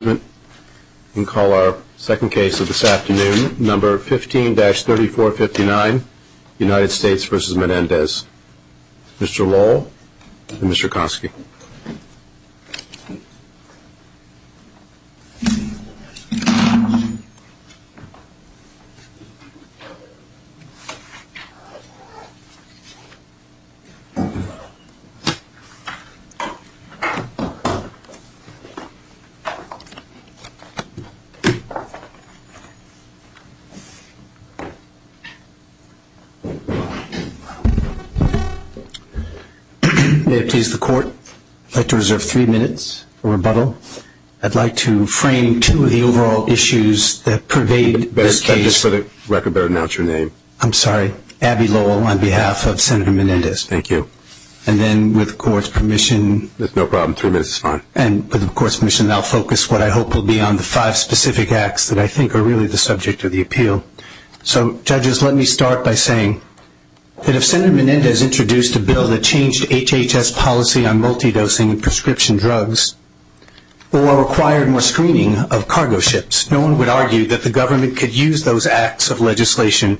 Mr. Lowell and Mr. Kosky. May it please the Court, I'd like to reserve three minutes for rebuttal. I'd like to frame two of the overall issues that pervade this case. I'd like to better announce your name. I'm sorry, Abby Lowell on behalf of Senator Menendez. Thank you. And then with the Court's permission... That's no problem, three minutes is fine. And with the Court's permission, I'll focus what I hope will be on the five specific acts that I think are really the subject of the appeal. So, judges, let me start by saying that if Senator Menendez introduced a bill that changed HHS policy on multidosing prescription drugs or required more screening of cargo ships, no one would argue that the government could use those acts of legislation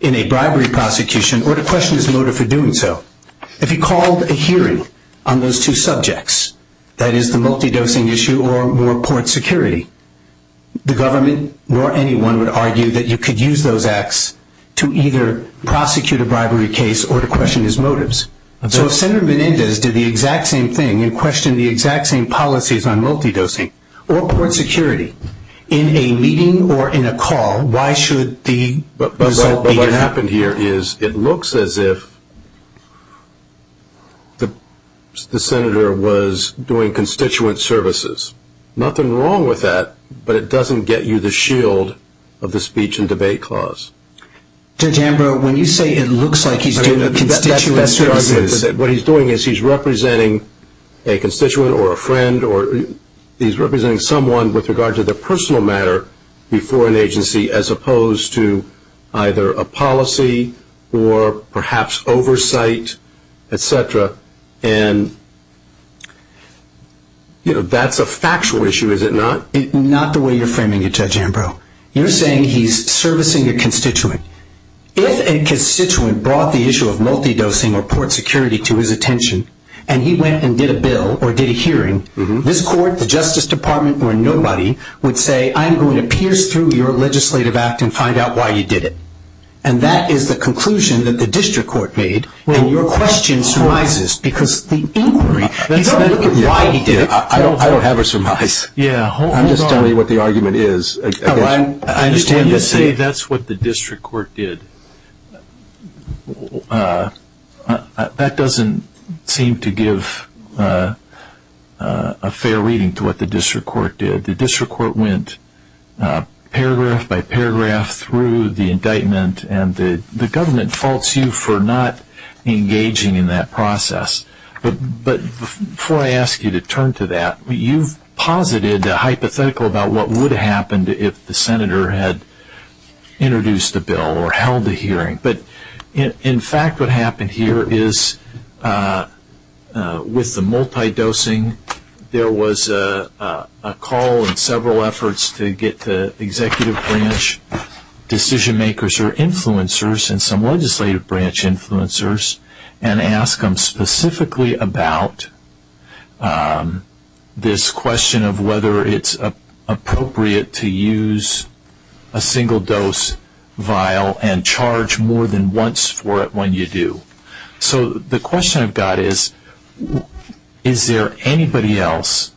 in a bribery prosecution or to question the motive for doing so. If he called a hearing on those two subjects, that is the multidosing issue or more court security, the government or anyone would argue that you could use those acts to either prosecute a bribery case or to question his motives. So if Senator Menendez did the exact same thing and questioned the exact same policies on multidosing or court security in a meeting or in a call, why should the result be different? What happened here is it looks as if the senator was doing constituent services. Nothing wrong with that, but it doesn't get you the shield of the speech and debate clause. Senator Ambrose, when you say it looks like he's doing the constituent services... What he's doing is he's representing a constituent or a friend or he's representing someone with regard to the personal matter before an agency as opposed to either a policy or perhaps oversight, etc., and that's a factual issue, is it not? Not the way you're framing it, Judge Ambrose. You're saying he's servicing a constituent. If a constituent brought the issue of multidosing or court security to his attention and he went and did a bill or did a hearing, this court, the Justice Department, or nobody would say, I'm going to pierce through your legislative act and find out why you did it, and that is the conclusion that the district court made when your question arises because the inquiry, you don't have to look at why he did it. I don't have a surmise. I'm just telling you what the argument is. I just have to say that's what the district court did. That doesn't seem to give a fair reading to what the district court did. The district court went paragraph by paragraph through the indictment, and the government faults you for not engaging in that process. Before I ask you to turn to that, you posited a hypothetical about what would have happened if the senator had introduced a bill or held a hearing, but in fact what happened here is with the multidosing, there was a call and several efforts to get the executive branch decision makers or influencers and some legislative branch influencers and ask them specifically about this question of whether it's appropriate to use a single-dose vial and charge more than once for it when you do. So the question I've got is, is there anybody else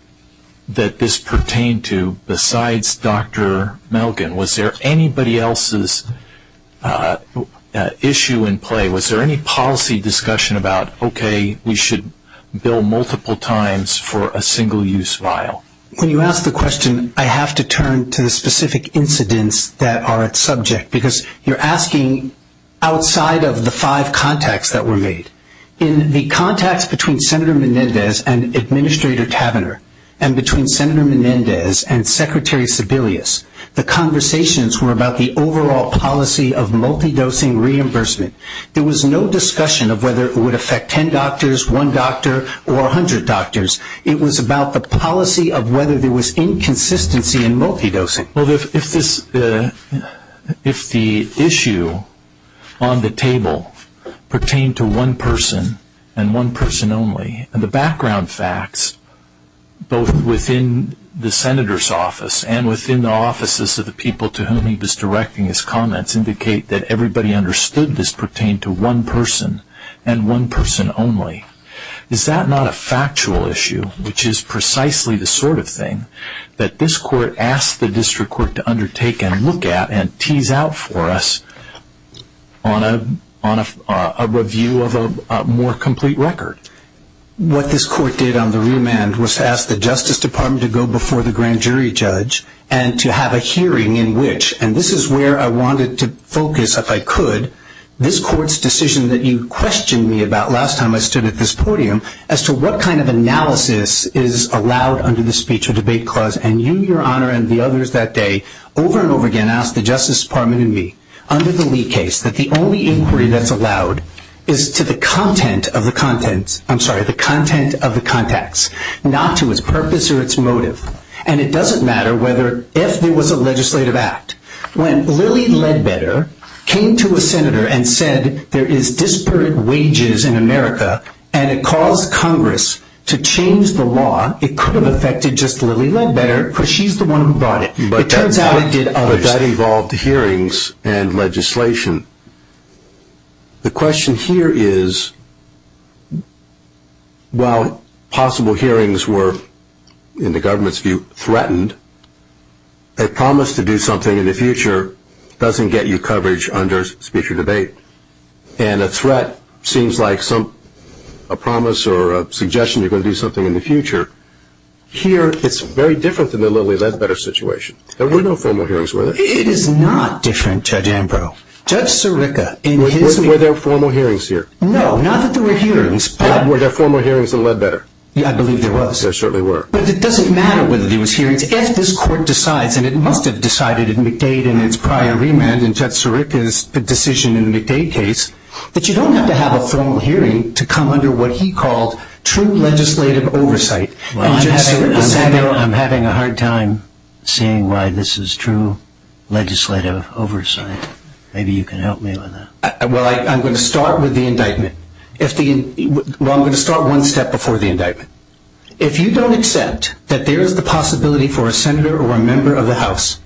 that this pertained to besides Dr. Milken? Was there anybody else's issue in play? Was there any policy discussion about, okay, we should bill multiple times for a single-use vial? When you ask the question, I have to turn to the specific incidents that are at subject because you're asking outside of the five contacts that were made. In the contacts between Senator Menendez and Administrator Tavenner and between Senator Menendez and Secretary Sebelius, the conversations were about the overall policy of multidosing reimbursement. There was no discussion of whether it would affect ten doctors, one doctor, or 100 doctors. It was about the policy of whether there was inconsistency in multidosing. If the issue on the table pertained to one person and one person only, the background facts both within the Senator's office and within the offices of the people to whom he was directing his comments indicate that everybody understood this pertained to one person and one person only. Is that not a factual issue, which is precisely the sort of thing that this court asked the district court to undertake and look at and tease out for us on a review of a more complete record? What this court did on the real man was to ask the Justice Department to go before the grand jury judge and to have a hearing in which, and this is where I wanted to focus if I could, this court's decision that you questioned me about last time I stood at this podium as to what kind of analysis is allowed under the speech or debate clause, and you, Your Honor, and the others that day over and over again asked the Justice Department and me under the Lee case that the only inquiry that's allowed is to the content of the contents, I'm sorry, the content of the contacts, not to its purpose or its motive. And it doesn't matter if there was a legislative act. When Lilly Ledbetter came to a Senator and said there is disparate wages in America and it caused Congress to change the law, it could have affected just Lilly Ledbetter because she's the one who brought it. But that involved hearings and legislation. The question here is while possible hearings were, in the government's view, threatened, a promise to do something in the future doesn't get you coverage under speech or debate. And a threat seems like a promise or a suggestion you're going to do something in the future. Here, it's very different than the Lilly Ledbetter situation. There were no formal hearings, were there? It is not different, Judge Ambrose. Judge Sirica in his case... There were no formal hearings here. No, not that there were hearings, but... There were no formal hearings in Ledbetter. I believe there was. There certainly were. But it doesn't matter whether there was hearings. If this court decides, and it must have decided in McDade and its prior remand, and Judge Sirica's decision in the McDade case, that you don't have to have a formal hearing to come under what he calls true legislative oversight. I'm having a hard time seeing why this is true legislative oversight. Maybe you can help me on that. Well, I'm going to start with the indictment. I'm going to start one step before the indictment. If you don't accept that there is the possibility for a senator or a member of the House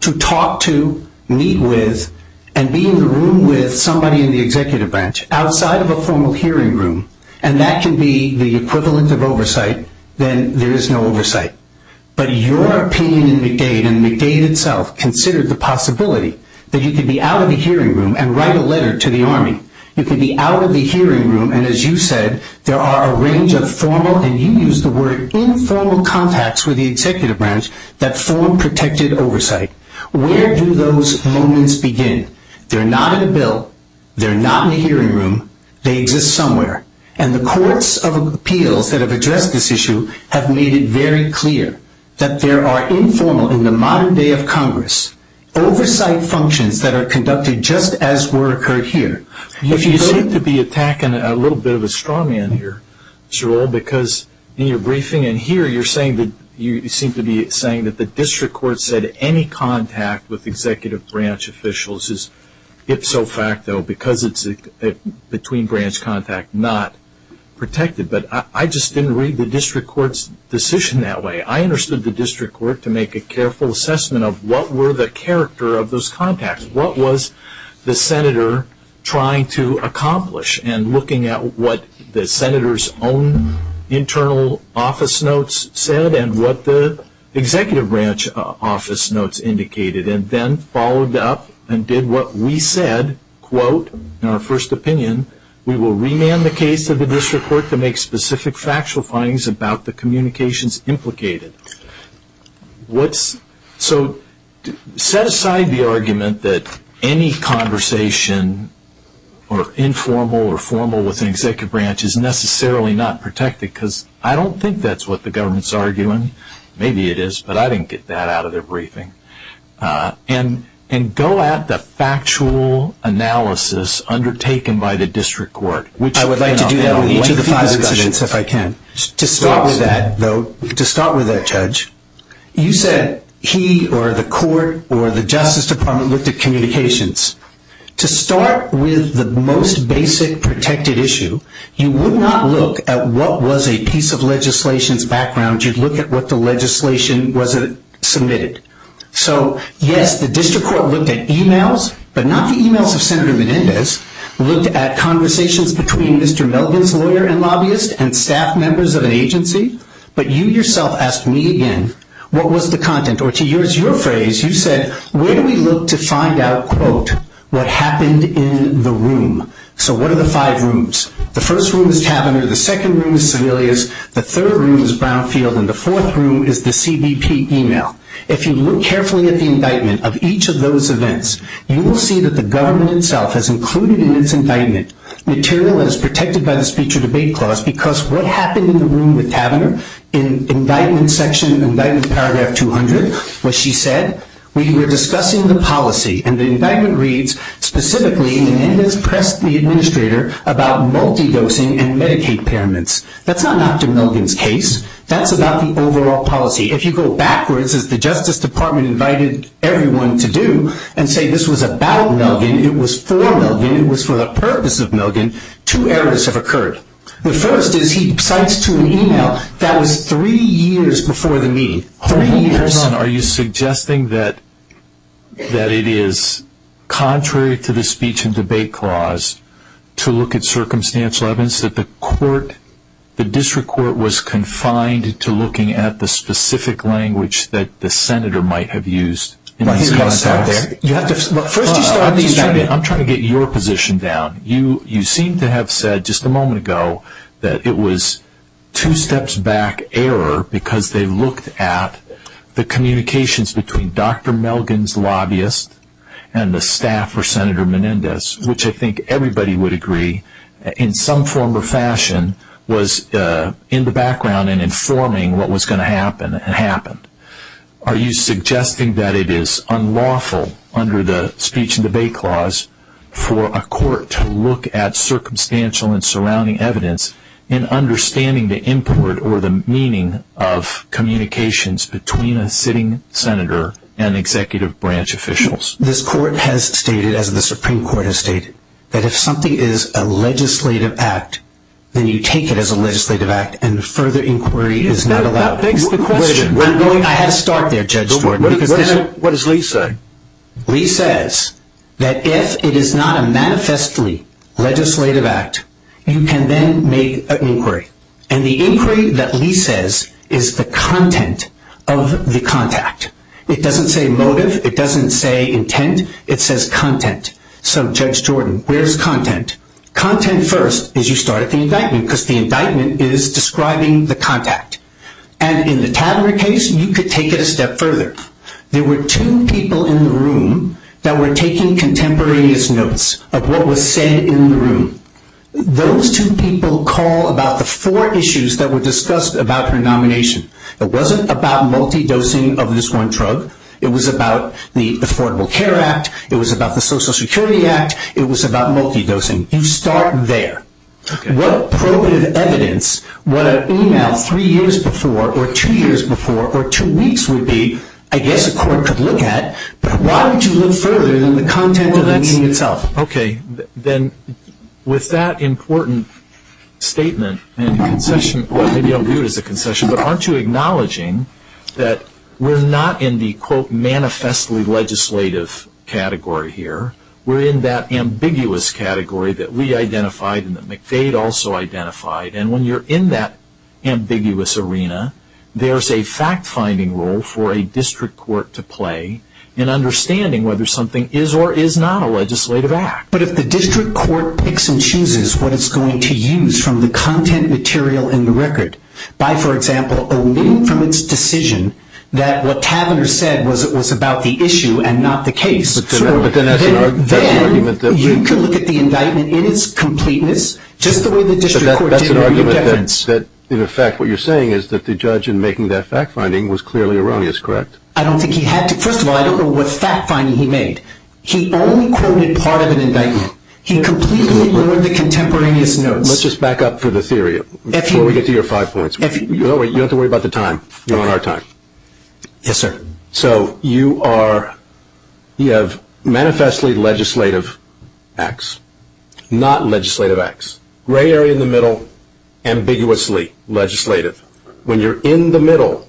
to talk to, meet with, and be in the room with somebody in the executive branch, outside of a formal hearing room, and that can be the equivalent of oversight, then there is no oversight. But your opinion in McDade, and McDade itself, considers the possibility that you could be out of the hearing room and write a letter to the Army. You could be out of the hearing room, and as you said, there are a range of formal, and you used the word informal, contacts with the executive branch that form protected oversight. Where do those moments begin? They're not a bill. They're not in the hearing room. They exist somewhere. And the courts of appeal that have addressed this issue have made it very clear that there are informal, in the modern day of Congress, oversight functions that are conducted just as were occurred here. You seem to be attacking a little bit of a straw man here, Cheryl, because in your briefing and here you seem to be saying that the district court said any contact with executive branch officials is ipso facto because it's between branch contact, not protected. But I just didn't read the district court's decision that way. I understood the district court to make a careful assessment of what were the character of those contacts. What was the senator trying to accomplish and looking at what the senator's own internal office notes said and what the executive branch office notes indicated, and then followed up and did what we said, quote, in our first opinion, we will rename the case of the district court to make specific factual findings about the communications implicated. So set aside the argument that any conversation or informal or formal with the executive branch is necessarily not protected because I don't think that's what the government's arguing. Maybe it is, but I didn't get that out of their briefing. And go at the factual analysis undertaken by the district court. I would like to do that with each of the five residents if I can. To start with that, though, to start with that, Judge, you said he or the court or the justice department looked at communications. To start with the most basic protected issue, you would not look at what was a piece of legislation's background. You'd look at what the legislation was that it submitted. So, yes, the district court looked at emails, but not the emails of Senator Menendez. Looked at conversations between Mr. Melvin's lawyer and lobbyist and staff members of an agency. But you yourself asked me again, what was the content? Or to use your phrase, you said, where do we look to find out, quote, what happened in the room? So what are the five rooms? The first room is cabinets. The second room is civilians. The third room is brownfield. And the fourth room is the CBP email. If you look carefully at the indictment of each of those events, you will see that the government itself has included in its indictment material that is protected by the speech or debate clause, because what happened in the room with Taverner in indictment section, indictment paragraph 200, what she said, we were discussing the policy, and the indictment reads specifically, Menendez pressed the administrator about multi-dosing and Medicaid payments. That's not Dr. Melvin's case. That's about the overall policy. If you go backwards, as the Justice Department invited everyone to do and say this was about Melvin, it was for Melvin, it was for the purpose of Melvin, two errors have occurred. The first is he types to an email that was three years before the meeting. Are you suggesting that it is contrary to the speech and debate clause to look at circumstantial evidence, that the court, the district court was confined to looking at the specific language that the senator might have used? I'm trying to get your position down. You seem to have said just a moment ago that it was two steps back error, because they looked at the communications between Dr. Melvin's lobbyist and the staff for Senator Menendez, which I think everybody would agree in some form or fashion was in the background and informing what was going to happen. It happened. Are you suggesting that it is unlawful under the speech and debate clause for a court to look at circumstantial and surrounding evidence in understanding the import or the meaning of communications between a sitting senator and executive branch officials? This court has stated, as the Supreme Court has stated, that if something is a legislative act, then you take it as a legislative act and further inquiry is not allowed. That begs the question. I'm going to have to stop there, Judge Gordon. What does Lee say? Lee says that if it is not a manifestly legislative act, you can then make an inquiry. And the inquiry that Lee says is the content of the contact. It doesn't say motive. It doesn't say intent. It says content. So, Judge Jordan, where is content? Content first is you start at the indictment, because the indictment is describing the contact. And in the Tavere case, you could take it a step further. There were two people in the room that were taking contemporaneous notes of what was said in the room. Those two people call about the four issues that were discussed about her nomination. It wasn't about multi-dosing of this one drug. It was about the Affordable Care Act. It was about the Social Security Act. It was about multi-dosing. You start there. What probative evidence would an email three years before or two years before or two weeks would be, I guess the court could look at, why don't you look further than the content of the meeting itself? Okay. Then with that important statement and concession, what we don't do is a concession, but aren't you acknowledging that we're not in the, quote, manifestly legislative category here. We're in that ambiguous category that we identified and that McVeigh also identified. And when you're in that ambiguous arena, there's a fact-finding role for a district court to play in understanding whether something is or is not a legislative act. But if the district court picks and chooses what it's going to use from the content material in the record, by, for example, a little-proof decision that what Kavanaugh said was about the issue and not the case, then you could look at the indictment in its completeness just the way the district court did. In effect, what you're saying is that the judge in making that fact-finding was clearly wrong. That's correct. I don't think he had to. First of all, I don't know what fact-finding he made. He only quoted part of an indictment. He completely lowered the contemporaneous notes. Let's just back up to the theory before we get to your five points. You don't have to worry about the time. You're on our time. Yes, sir. So you are, you have manifestly legislative acts, not legislative acts. Gray area in the middle, ambiguously legislative. When you're in the middle,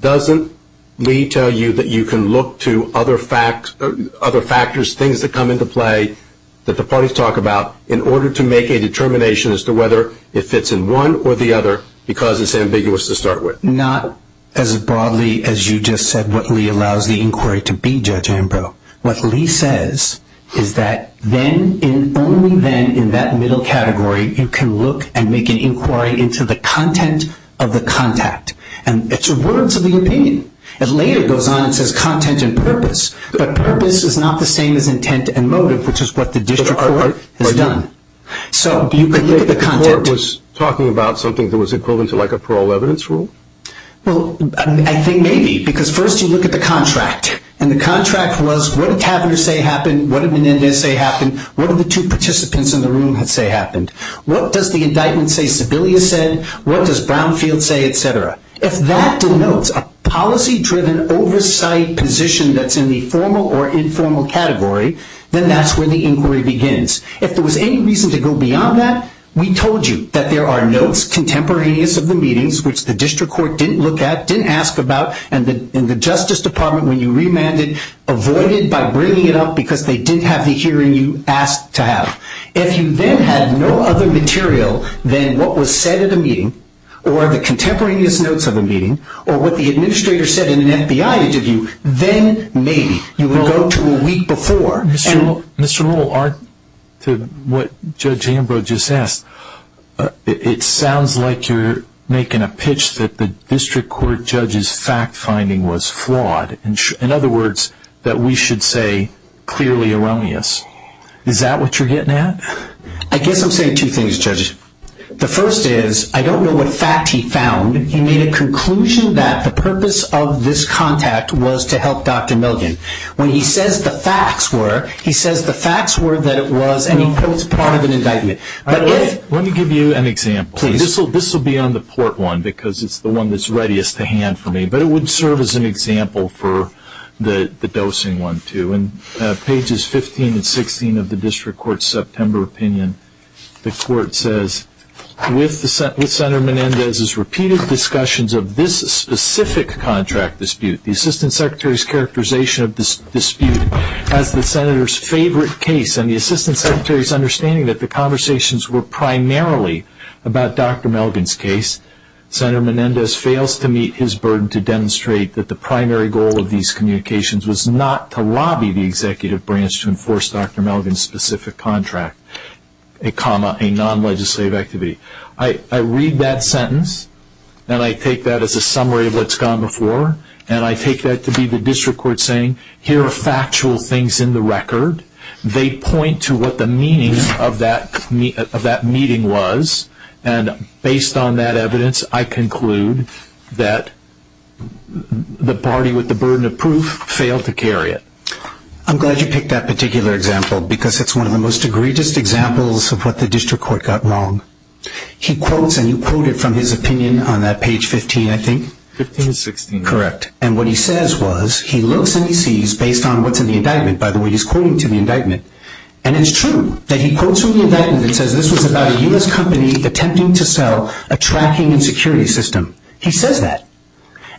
doesn't Lee tell you that you can look to other factors, things that come into play that the parties talk about, in order to make a determination as to whether it fits in one or the other because it's ambiguous to start with? Not as broadly as you just said what Lee allows the inquiry to be, Judge Ambrose. What Lee says is that then, only then, in that middle category, you can look and make an inquiry into the content of the contact. And it's a word to be obtained. It later goes on and says content and purpose. But purpose is not the same as intent and motive, which is what the district court has done. So you can look at the contact. The court was talking about something that was equivalent to like a parole evidence rule? Well, I think maybe because first you look at the contract. And the contract was what did Catherine say happened? What did Menendez say happened? What did the two participants in the room say happened? What does the indictment say Sebelius said? What does Brownfield say, et cetera? If that denotes a policy-driven oversight position that's in the formal or informal category, then that's where the inquiry begins. If there was any reason to go beyond that, we told you that there are notes, contemporaneous of the meetings, which the district court didn't look at, didn't ask about, and the Justice Department, when you remanded, avoided by bringing it up because they didn't have the hearing you asked to have. If you then had no other material than what was said at the meeting or the contemporaneous notes of the meeting or what the administrator said in an FBI interview, then maybe you would go to a week before. Mr. Rule, to what Judge Ambrose just asked, it sounds like you're making a pitch that the district court judge's fact-finding was flawed. In other words, that we should say clearly erroneous. Is that what you're getting at? I guess I'm saying two things, Judge. The first is I don't know what fact he found. He made a conclusion that the purpose of this contact was to help Dr. Milgren. When he says the facts were, he says the facts were that it was, and he notes part of an indictment. Let me give you an example. This will be on the port one because it's the one that's readiest to hand for me, but it would serve as an example for the dosing one too. In pages 15 and 16 of the district court's September opinion, the court says, with Senator Menendez's repeated discussions of this specific contract dispute, the assistant secretary's characterization of this dispute as the senator's favorite case and the assistant secretary's understanding that the conversations were primarily about Dr. Milgren's case, Senator Menendez fails to meet his burden to demonstrate that the primary goal of these communications was not to lobby the executive branch to enforce Dr. Milgren's specific contract, a non-legislative activity. I read that sentence, and I take that as a summary of what's gone before, and I take that to be the district court saying, here are factual things in the record. They point to what the meaning of that meeting was, and based on that evidence, I conclude that the party with the burden of proof failed to carry it. I'm glad you picked that particular example because it's one of the most egregious examples of what the district court got wrong. He quotes, and you quoted from his opinion on that page 15, I think. 15 and 16. Correct, and what he says was he looks and he sees, based on what's in the indictment, by the way, he's quoting to the indictment, and it's true that he quotes from the indictment and says this was about a U.S. company attempting to sell a tracking and security system. He says that,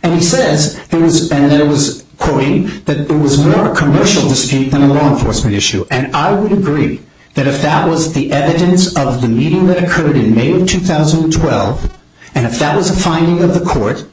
and he says, and then he was quoting, that it was more a commercial mistake than a law enforcement issue, and I would agree that if that was the evidence of the meeting that occurred in May of 2012, and if that was a finding of the court,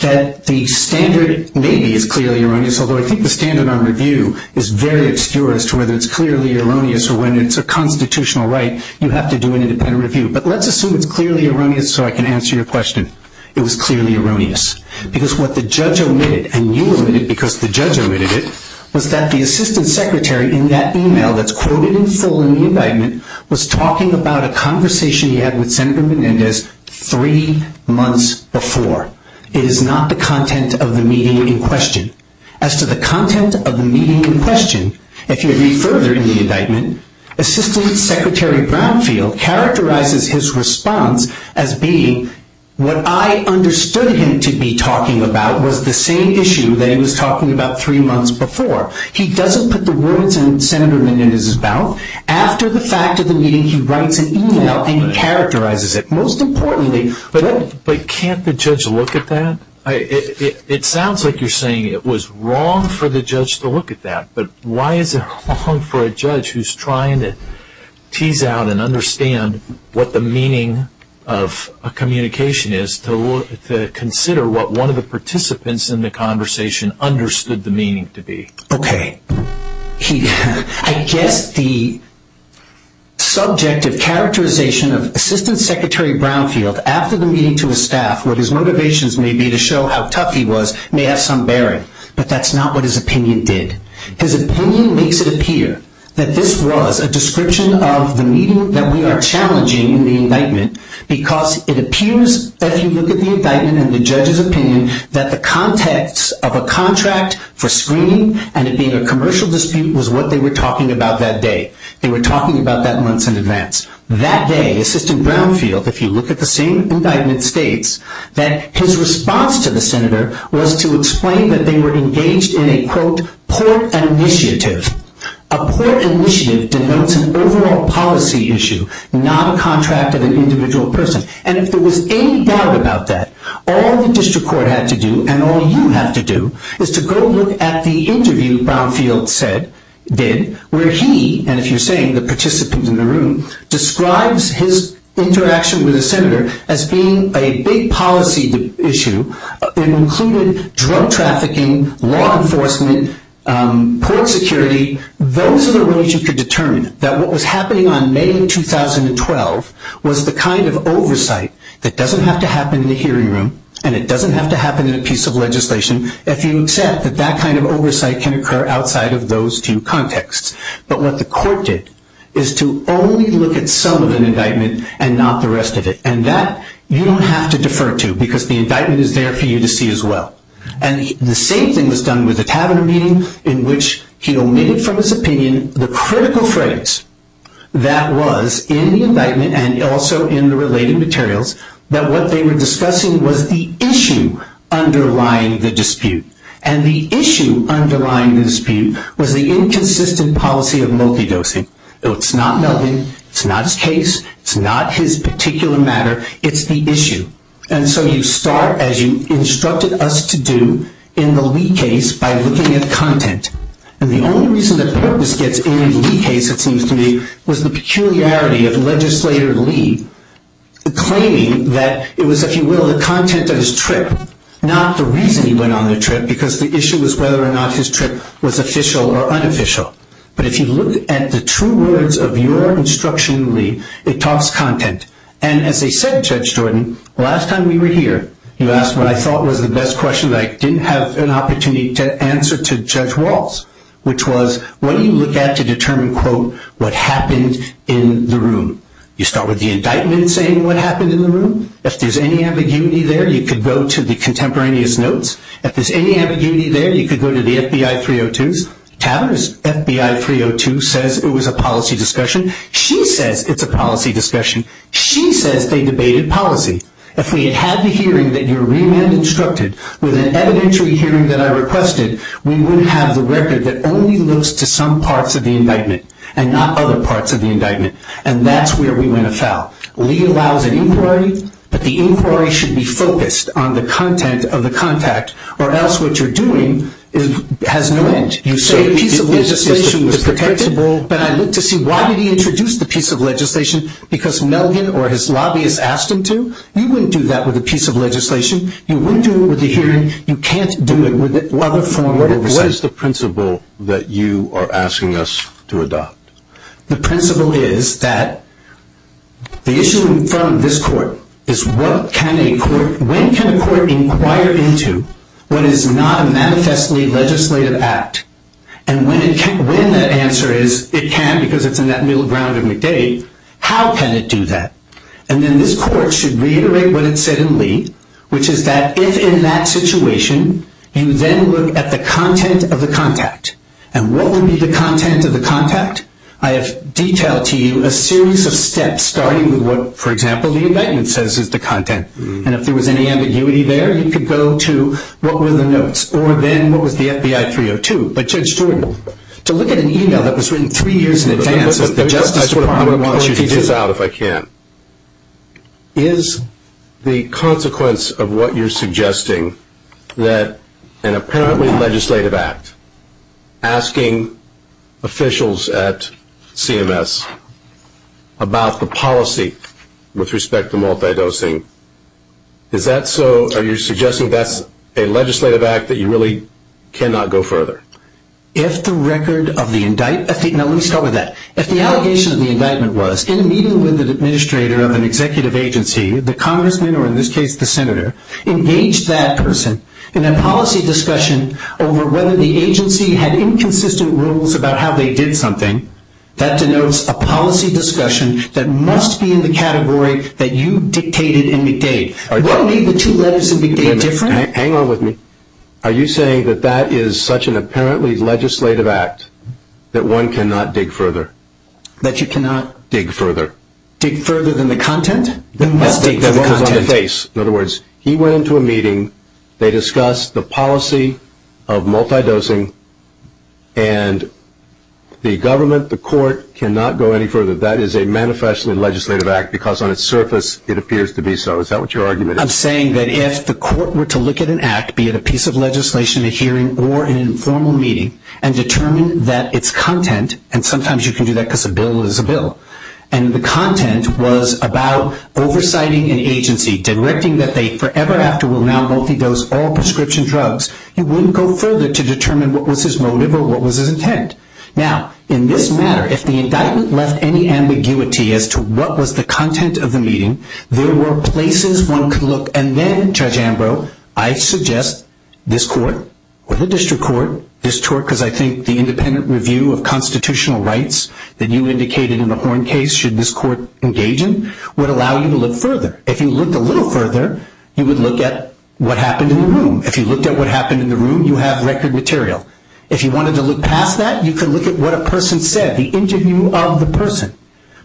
that the standard maybe is clearly erroneous, although I think the standard on review is very obscure as to whether it's clearly erroneous or when it's a constitutional right, you have to do an independent review. But let's assume it's clearly erroneous so I can answer your question. It was clearly erroneous because what the judge omitted, and you omitted because the judge omitted it, was that the assistant secretary in that email that's quoted in full in the indictment was talking about a conversation he had with Senator Menendez three months before. It is not the content of the meeting in question. As to the content of the meeting in question, if you read further in the indictment, assistant secretary Brownfield characterizes his response as being, what I understood him to be talking about was the same issue that he was talking about three months before. He doesn't put the words of Senator Menendez about. After the fact of the meeting, he writes an email and he characterizes it. Most importantly, but can't the judge look at that? It sounds like you're saying it was wrong for the judge to look at that, but why is it wrong for a judge who's trying to tease out and understand what the meaning of a communication is to consider what one of the participants in the conversation understood the meaning to be? Okay. I guess the subject of characterization of assistant secretary Brownfield after the meeting to his staff, what his motivations may be to show how tough he was may have some bearing, but that's not what his opinion did. His opinion makes it appear that this was a description of the meeting that we are challenging in the indictment because it appears that if you look at the indictment and the judge's opinion, that the context of a contract for screening and it being a commercial dispute was what they were talking about that day. They were talking about that months in advance. That day, assistant Brownfield, if you look at the same indictment, states that his response to the senator was to explain that they were engaged in a, quote, poor initiative. A poor initiative denotes an overall policy issue, not a contract of an individual person. And if there was any doubt about that, all the district court had to do and all you had to do is to go look at the interview Brownfield did where he, and if you're saying the participant in the room, describes his interaction with the senator as being a big policy issue and included drug trafficking, law enforcement, poor security, those are the ways you could determine that what was happening on May 2012 was the kind of oversight that doesn't have to happen in the hearing room and it doesn't have to happen in a piece of legislation if you accept that that kind of oversight can occur outside of those two contexts. But what the court did is to only look at some of the indictment and not the rest of it. And that you don't have to defer to because the indictment is there for you to see as well. And the same thing was done with the tavern meeting in which he omitted from his opinion the critical phrase that was in the indictment and also in the related materials, that what they were discussing was the issue underlying the dispute. And the issue underlying the dispute was the inconsistent policy of multidosing. It's not nothing, it's not his case, it's not his particular matter, it's the issue. And so you start as you instructed us to do in the Lee case by looking at content. And the only reason the court gets in the Lee case, it seems to me, was the peculiarity of Legislator Lee claiming that it was, if you will, the content of his trip, not the reason he went on the trip because the issue was whether or not his trip was official or unofficial. But if you looked at the true words of your instruction, Lee, it talks content. And as they said, Judge Norton, last time you were here, you asked what I thought were the best questions because I didn't have an opportunity to answer to Judge Waltz, which was what do you look at to determine, quote, what happens in the room? You start with the indictment saying what happens in the room. If there's any ambiguity there, you could go to the contemporaneous notes. If there's any ambiguity there, you could go to the FBI 302s. Tavern's FBI 302 says it was a policy discussion. She said it's a policy discussion. She said they debated policy. If we had had the hearing that your remand instructed with an evidentiary hearing that I requested, we would have the record that only looks to some parts of the indictment and not other parts of the indictment, and that's where we went afoul. Lee allows an inquiry, but the inquiry should be focused on the content of the contact or else what you're doing has no end. You say the piece of legislation was predictable, but I look to see why did he introduce the piece of legislation because Melvin or his lobbyists asked him to? You wouldn't do that with a piece of legislation. You wouldn't do it with a hearing. You can't do it with a form. What is the principle that you are asking us to adopt? The principle is that the issue in front of this court is when can a court inquire into when it's not a manifestly legislative act, and when that answer is it can because it's in that middle ground of McDade, how can it do that? And then this court should reiterate what it said in Lee, which is that if in that situation you then look at the content of the contact, and what would be the content of the contact? I have detailed to you a series of steps starting with what, for example, the indictment says is the content, and if there was any ambiguity there, you could go to what were the notes or then what was the FBI 302, a transferable. So look at an email that was written three years in advance. I just want to point this out if I can. Is the consequence of what you're suggesting that an apparently legislative act, asking officials at CMS about the policy with respect to multidosing, is that so? Are you suggesting that's a legislative act that you really cannot go further? If the record of the indictment, no, let me start with that. If the allegation of the indictment was in a meeting with the administrator of an executive agency, the congressman or in this case the senator engaged that person in a policy discussion over whether the agency had inconsistent rules about how they did something, that denotes a policy discussion that must be in the category that you dictated in McDade. What made the two letters in McDade different? Hang on with me. Are you saying that that is such an apparently legislative act that one cannot dig further? That you cannot? Dig further. Dig further than the content? In other words, he went into a meeting, they discussed the policy of multidosing, and the government, the court cannot go any further. That is a manifestly legislative act because on its surface it appears to be so. Is that what your argument is? I'm saying that if the court were to look at an act, be it a piece of legislation, a hearing, or an informal meeting, and determine that its content, and sometimes you can do that because a bill is a bill, and the content was about oversighting an agency, directing that they forever after will now multidose all prescription drugs, it wouldn't go further to determine what was his motive or what was his intent. Now, in this matter, if the indictment left any ambiguity as to what was the content of the meeting, there were places one could look. And then, Judge Ambrose, I suggest this court or the district court, because I think the independent review of constitutional rights that you indicated in the Horn case, should this court engage in, would allow you to look further. If you looked a little further, you would look at what happened in the room. If you looked at what happened in the room, you have record material. If you wanted to look past that, you could look at what a person said, the interview of the person.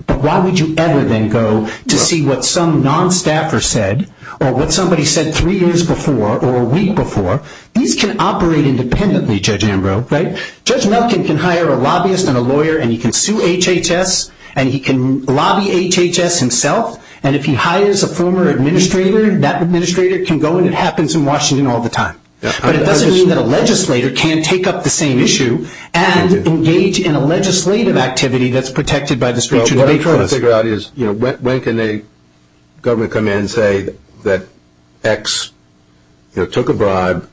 But why would you ever then go to see what some non-staffer said, or what somebody said three years before, or a week before? These can operate independently, Judge Ambrose, right? Judge Muffin can hire a lobbyist and a lawyer, and he can sue HHS, and he can lobby HHS himself, and if he hires a former administrator, that administrator can go, and it happens in Washington all the time. But it doesn't mean that a legislator can't take up the same issue and engage in a legislative activity that's protected by the speech and debate clause. What I'm trying to figure out is when can a government come in and say that X took a bribe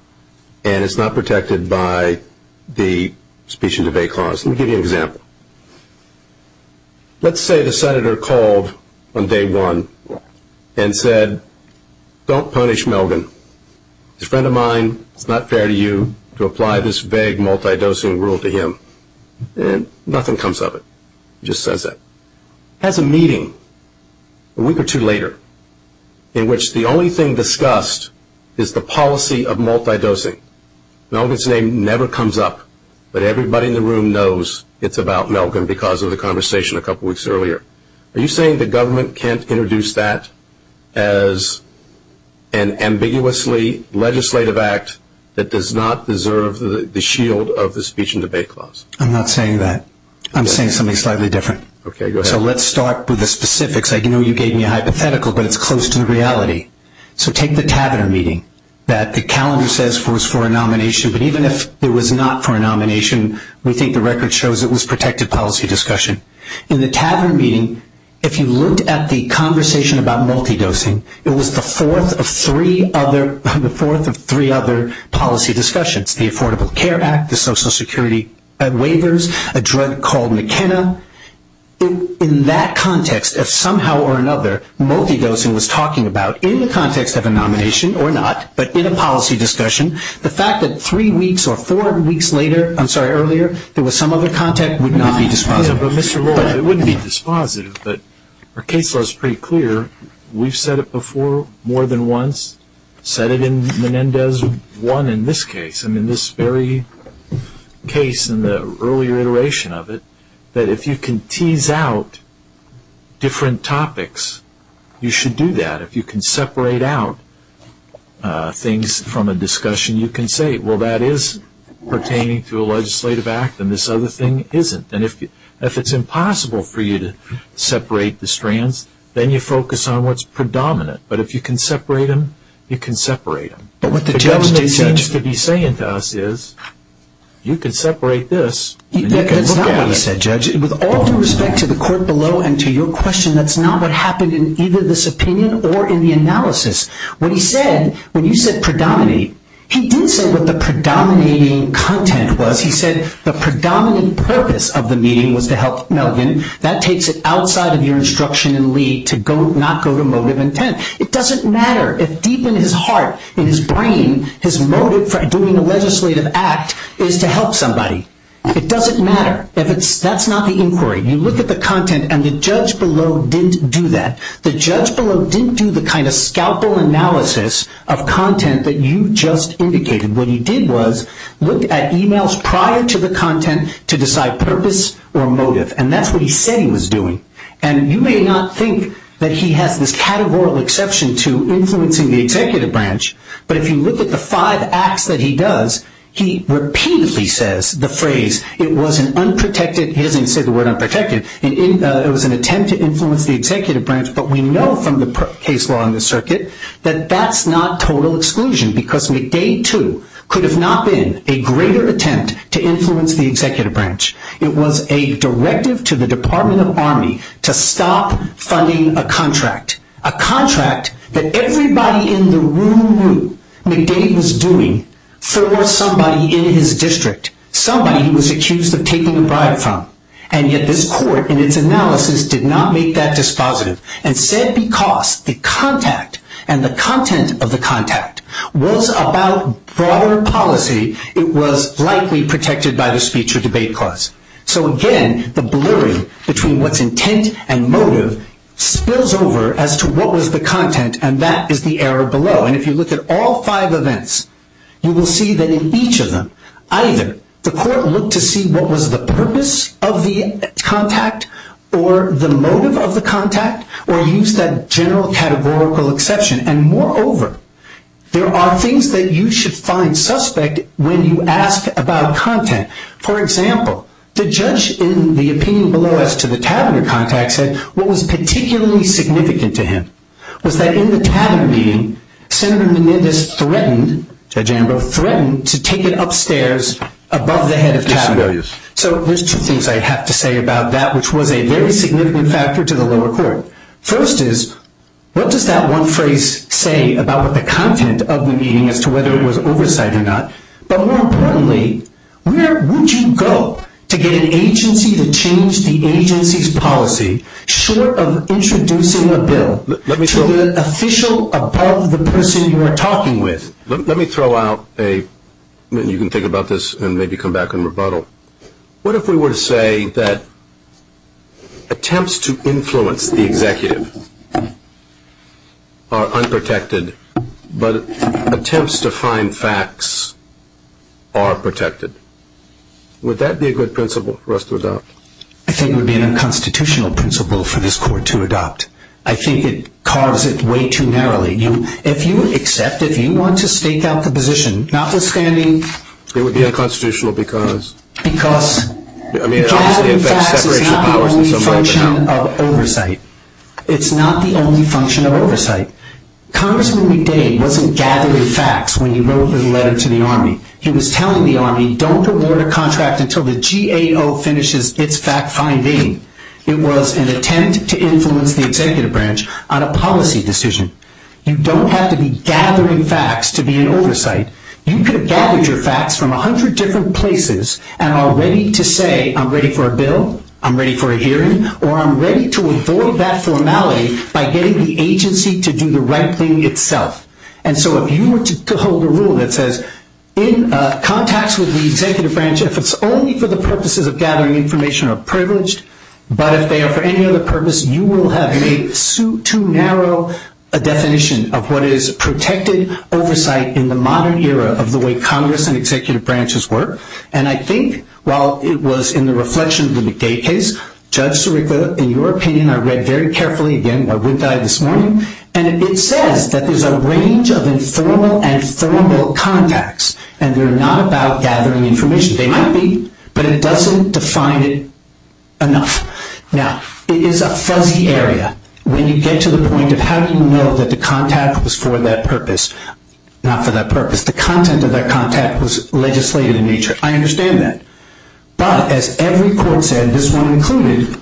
and it's not protected by the speech and debate clause? Let me give you an example. Let's say the senator called on day one and said, don't punish Melvin. His friend of mine, it's not fair to you to apply this vague multidosing rule to him. Nothing comes of it. He just says that. He has a meeting a week or two later in which the only thing discussed is the policy of multidosing. Melvin's name never comes up, but everybody in the room knows it's about Melvin because of the conversation a couple weeks earlier. Are you saying the government can't introduce that as an ambiguously legislative act that does not deserve the shield of the speech and debate clause? I'm not saying that. I'm saying something slightly different. Okay, go ahead. So let's start with the specifics. I know you gave me a hypothetical, but it's close to the reality. So take the cabinet meeting that the calendar says was for a nomination, but even if it was not for a nomination, we think the record shows it was protected policy discussion. In the cabinet meeting, if you looked at the conversation about multidosing, it was the fourth of three other policy discussions, the Affordable Care Act, the Social Security waivers, a drug called McKenna. In that context, if somehow or another multidosing was talking about, in the context of a nomination or not, but in a policy discussion, the fact that three weeks or four weeks later, I'm sorry, earlier, there was some other context would not be dispositive. Mr. Roy, it wouldn't be dispositive, but the case was pretty clear. We've said it before more than once, said it in Menendez 1 in this case, and in this very case in the earlier iteration of it, that if you can tease out different topics, you should do that. If you can separate out things from a discussion, you can say, well, that is pertaining to a legislative act and this other thing isn't. And if it's impossible for you to separate the strands, then you focus on what's predominant. But if you can separate them, you can separate them. What the judge could be saying to us is, you can separate this. With all due respect to the court below and to your question, that's not what happened in either this opinion or in the analysis. When you said predominate, he didn't say what the predominating content was. He said the predominant purpose of the meeting was to help Melvin. That takes it outside of your instruction and lead to not go to motive intent. It doesn't matter if deep in his heart, in his brain, his motive for doing a legislative act is to help somebody. It doesn't matter. That's not the inquiry. You look at the content, and the judge below didn't do that. The judge below didn't do the kind of scalpel analysis of content that you just indicated. What he did was look at emails prior to the content to decide purpose or motive, and that's what he said he was doing. And you may not think that he had this categorical exception to influencing the executive branch, but if you look at the five acts that he does, he repeatedly says the phrase, it was an unprotected, he didn't say the word unprotected, it was an attempt to influence the executive branch, but we know from the case law in the circuit that that's not total exclusion because McDade, too, could have not been a greater attempt to influence the executive branch. It was a directive to the Department of Army to stop funding a contract, a contract that everybody in the room knew McDade was doing for somebody in his district, somebody he was accused of taking a bribe from. And yet this court in its analysis did not make that dispositive. Instead, because the contact and the content of the contact was about broader policy, it was likely protected by the speech or debate clause. So, again, the blurry between what's intent and motive spills over as to what was the content, and that is the error below. And if you look at all five events, you will see that in each of them, either the court looked to see what was the purpose of the contact or the motive of the contact or used that general categorical exception. And, moreover, there are things that you should find suspect when you ask about content. For example, the judge in the opinion below as to the cabinet contact said what was particularly significant to him was that in the cabin meeting, Senator Menendez threatened to take it upstairs above the head of cabin. So there's two things I have to say about that, which was a very significant factor to the lower court. First is, what does that one phrase say about the content of the meeting as to whether it was oversight or not? But more importantly, where would you go to get an agency to change the agency's policy short of introducing a bill? To the official above the person you're talking with. Let me throw out a – you can think about this and maybe come back and rebuttal. What if we were to say that attempts to influence the executive are unprotected, but attempts to find facts are protected? Would that be a good principle for us to adopt? I think it would be an unconstitutional principle for this court to adopt. I think it carves it way too narrowly. If you accept it, if you want to stake out the position, notwithstanding – It would be unconstitutional because? Because the facts are not the only function of oversight. It's not the only function of oversight. Congressman Lee Day wasn't gathering facts when he wrote the letter to the Army. He was telling the Army, don't award a contract until the GAO finishes its fact-finding. It was an attempt to influence the executive branch on a policy decision. You don't have to be gathering facts to be in oversight. You could have gathered your facts from a hundred different places and are ready to say I'm ready for a bill, I'm ready for a hearing, or I'm ready to avoid that formality by getting the agency to do the right thing itself. And so if you were to hold a rule that says in contacts with the executive branch, if it's only for the purposes of gathering information or privileged, but if they are for any other purpose, you will have a too narrow a definition of what is protected oversight in the modern era of the way Congress and executive branches work. And I think while it was in the reflections in the Day case, Judge Sirica, in your opinion, I read very carefully again, I would die this morning, and it says that there's a range of informal and formal contacts, and they're not about gathering information. They might be, but it doesn't define it enough. Now, it is a fuzzy area. When you get to the point of how do you know that the contact was for that purpose, not for that purpose, the content of that contact was legislative in nature. I understand that. But as every court said, this one included,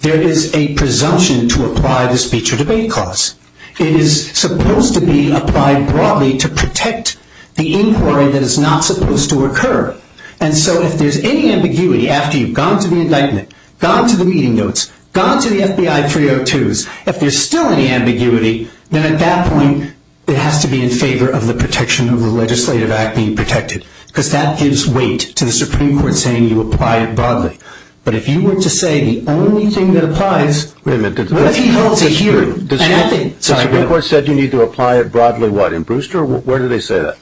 there is a presumption to apply the speech or debate clause. It is supposed to be applied broadly to protect the inquiry that is not supposed to occur. And so if there's any ambiguity after you've gone to the indictment, gone to the meeting notes, gone to the FBI 302s, if there's still any ambiguity, then at that point it has to be in favor of the protection of a legislative act being protected, because that gives weight to the Supreme Court saying you applied broadly. But if you were to say the only thing that applies, Wait a minute, the Supreme Court said you need to apply it broadly, what, in Brewster? Where do they say that?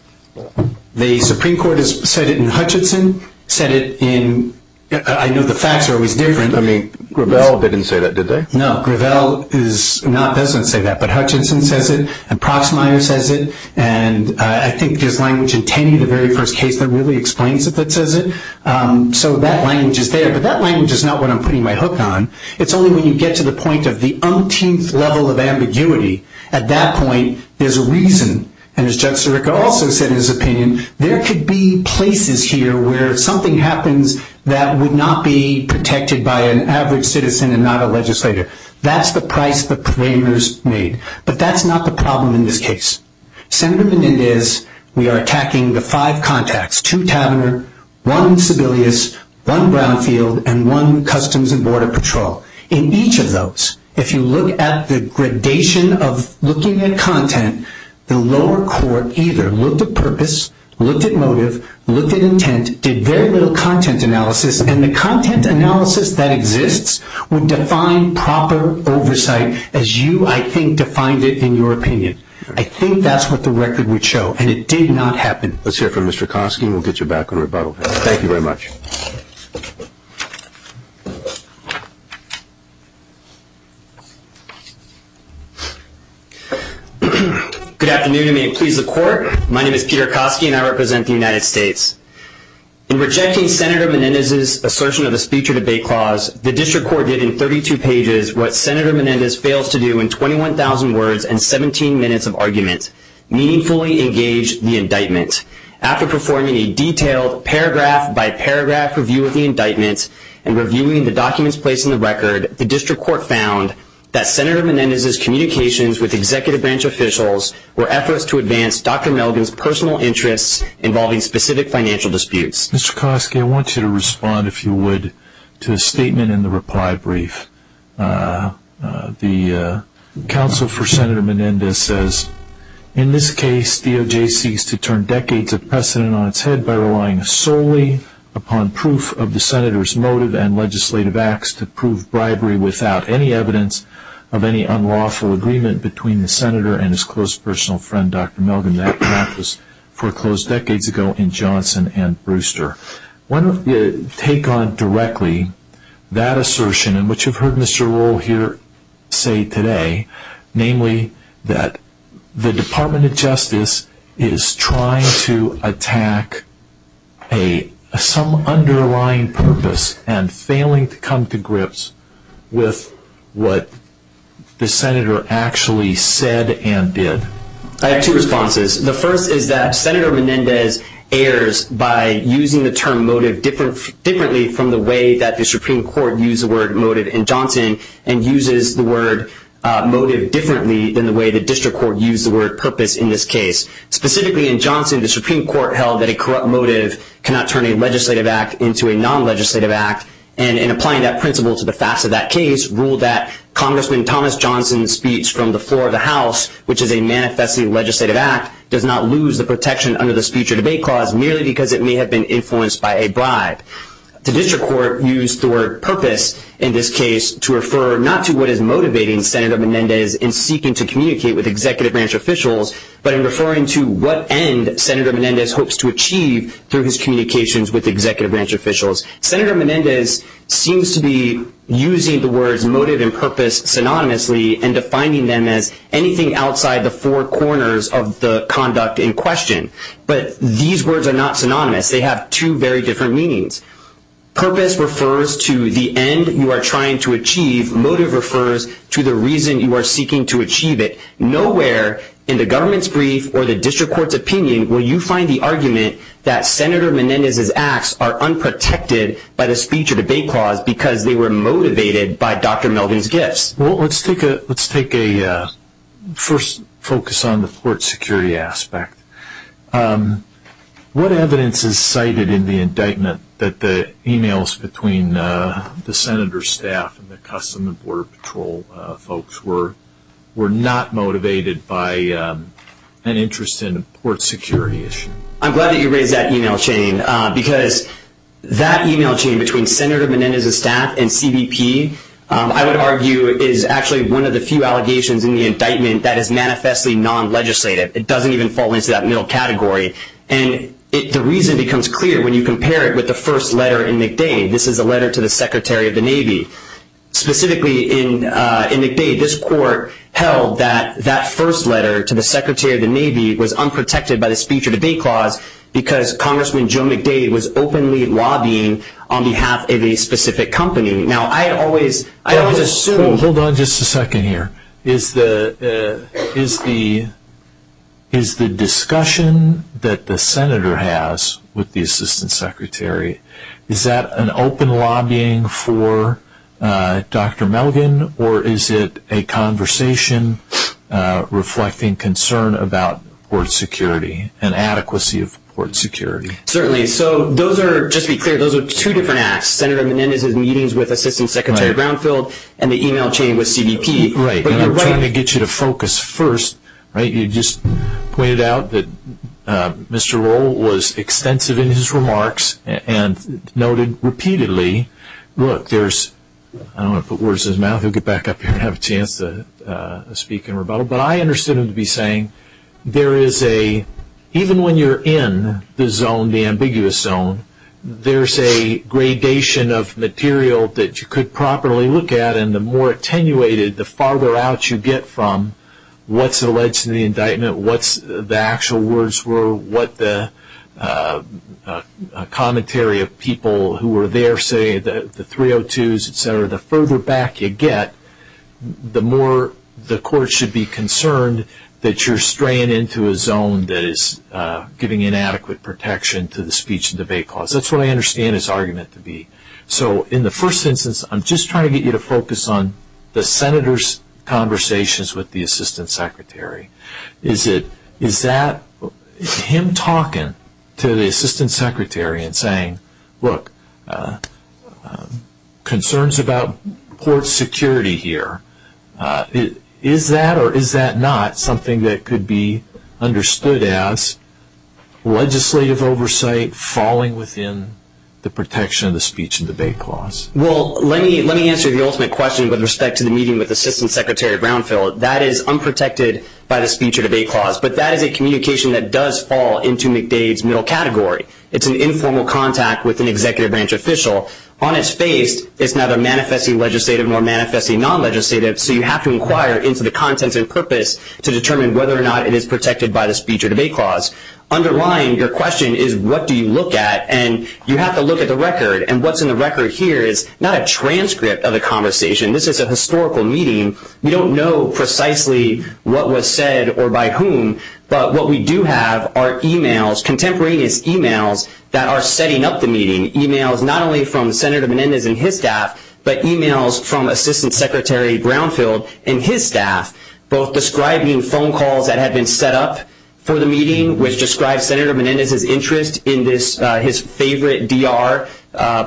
The Supreme Court has said it in Hutchinson, said it in, I know the facts are always different. I mean, Gravel didn't say that, did they? No, Gravel doesn't say that, but Hutchinson says it, and Proxmire says it, and I think there's language in Tenney, the very first case that really explains it that says it. So that language is there, but that language is not what I'm putting my hook on. It's only when you get to the point of the umpteenth level of ambiguity, at that point there's a reason, and as Judge Sirica also said in his opinion, there could be places here where something happens that would not be protected by an average citizen and not a legislator. That's the price the framers made. But that's not the problem in this case. Senator Menendez, we are attacking the five contacts, two Taverner, one Sebelius, one Brownfield, and one Customs and Border Patrol. In each of those, if you look at the gradation of looking at content, the lower court either looked at purpose, looked at motive, looked at intent, did very little content analysis, and the content analysis that exists would define proper oversight as you, I think, defined it in your opinion. I think that's what the record would show, and it did not happen. That's it for Mr. Kosky. We'll get you back on rebuttal. Thank you very much. Thank you. Good afternoon. May it please the Court. My name is Peter Kosky, and I represent the United States. In rejecting Senator Menendez's assertion of a speech or debate clause, the district court did in 32 pages what Senator Menendez failed to do in 21,000 words and 17 minutes of argument, meaningfully engage the indictment. After performing a detailed paragraph-by-paragraph review of the indictment and reviewing the documents placed in the record, the district court found that Senator Menendez's communications with executive branch officials were efforts to advance Dr. Melvin's personal interests involving specific financial disputes. Mr. Kosky, I want you to respond, if you would, to a statement in the reply brief. The counsel for Senator Menendez says, in this case, DOJ ceased to turn decades of precedent on its head by relying solely upon proof of the senator's motive and legislative acts to prove bribery without any evidence of any unlawful agreement between the senator and his close personal friend, Dr. Melvin. That practice foreclosed decades ago in Johnson and Brewster. Why don't you take on directly that assertion, and what you've heard Mr. Rohl here say today, namely that the Department of Justice is trying to attack some underlying purpose and failing to come to grips with what the senator actually said and did. I have two responses. The first is that Senator Menendez errs by using the term motive differently from the way that the Supreme Court used the word motive in Johnson and uses the word motive differently than the way the district court used the word purpose in this case. Specifically in Johnson, the Supreme Court held that a corrupt motive cannot turn a legislative act into a non-legislative act, and in applying that principle to the facts of that case, ruled that Congressman Thomas Johnson's speech from the floor of the House, which is a manifestly legislative act, does not lose the protection under the speech or debate clause merely because it may have been influenced by a bribe. The district court used the word purpose in this case to refer not to what is motivating Senator Menendez in seeking to communicate with executive branch officials, but in referring to what end Senator Menendez hopes to achieve through his communications with executive branch officials. Senator Menendez seems to be using the words motive and purpose synonymously and defining them as anything outside the four corners of the conduct in question. But these words are not synonymous. They have two very different meanings. Purpose refers to the end you are trying to achieve. Motive refers to the reason you are seeking to achieve it. Nowhere in the governance brief or the district court's opinion will you find the argument that Senator Menendez's acts are unprotected by the speech or debate clause because they were motivated by Dr. Melvin's gifts. Let's take a first focus on the port security aspect. What evidence is cited in the indictment that the emails between the Senator's staff and the Customs and Border Patrol folks were not motivated by an interest in a port security issue? I'm glad that you raised that email chain because that email chain between Senator Menendez's staff and CBP I would argue is actually one of the few allegations in the indictment that is manifestly non-legislative. It doesn't even fall into that middle category. And the reason becomes clear when you compare it with the first letter in McDade. This is a letter to the Secretary of the Navy. Specifically in McDade, this court held that that first letter to the Secretary of the Navy was unprotected by the speech or debate clause because Congressman Joe McDade was openly lobbying on behalf of a specific company. Hold on just a second here. Is the discussion that the Senator has with the Assistant Secretary, is that an open lobbying for Dr. Melvin, or is it a conversation reflecting concern about port security and adequacy of port security? Certainly. So those are, just to be clear, those are two different acts, Senator Menendez in the meetings with Assistant Secretary Brownfield and the email chain with CBP. Let me get you to focus first. You just pointed out that Mr. Rohl was extensive in his remarks and noted repeatedly, look, there's, I don't know if words in his mouth. He'll get back up here and have a chance to speak in rebuttal. But I understood him to be saying there is a, even when you're in the zone, the ambiguous zone, there's a gradation of material that you could properly look at and the more attenuated, the farther out you get from what's alleged in the indictment, what the actual words were, what the commentary of people who were there say, the 302s, et cetera, the further back you get, the more the court should be concerned that you're straying into a zone that is giving inadequate protection to the speech and debate clause. That's what I understand his argument to be. So in the first instance, I'm just trying to get you to focus on the senator's conversations with the assistant secretary. Is it, is that, is him talking to the assistant secretary and saying, look, concerns about court security here, is that or is that not something that could be understood as legislative oversight falling within the protection of the speech and debate clause? Well, let me answer the ultimate question with respect to the meeting with Assistant Secretary Brownfield. That is unprotected by the speech and debate clause, but that is a communication that does fall into McDade's middle category. It's an informal contact with an executive branch official. On its face, it's neither manifestly legislative nor manifestly non-legislative, so you have to inquire into the content and purpose to determine whether or not it is protected by the speech and debate clause. Underlying your question is what do you look at, and you have to look at the record, and what's in the record here is not a transcript of the conversation. This is a historical meeting. We don't know precisely what was said or by whom, but what we do have are e-mails, contemporaneous e-mails that are setting up the meeting, e-mails not only from Senator Menendez and his staff, but e-mails from Assistant Secretary Brownfield and his staff, both describing phone calls that have been set up for the meeting, which describes Senator Menendez's interest in this, his favorite BR,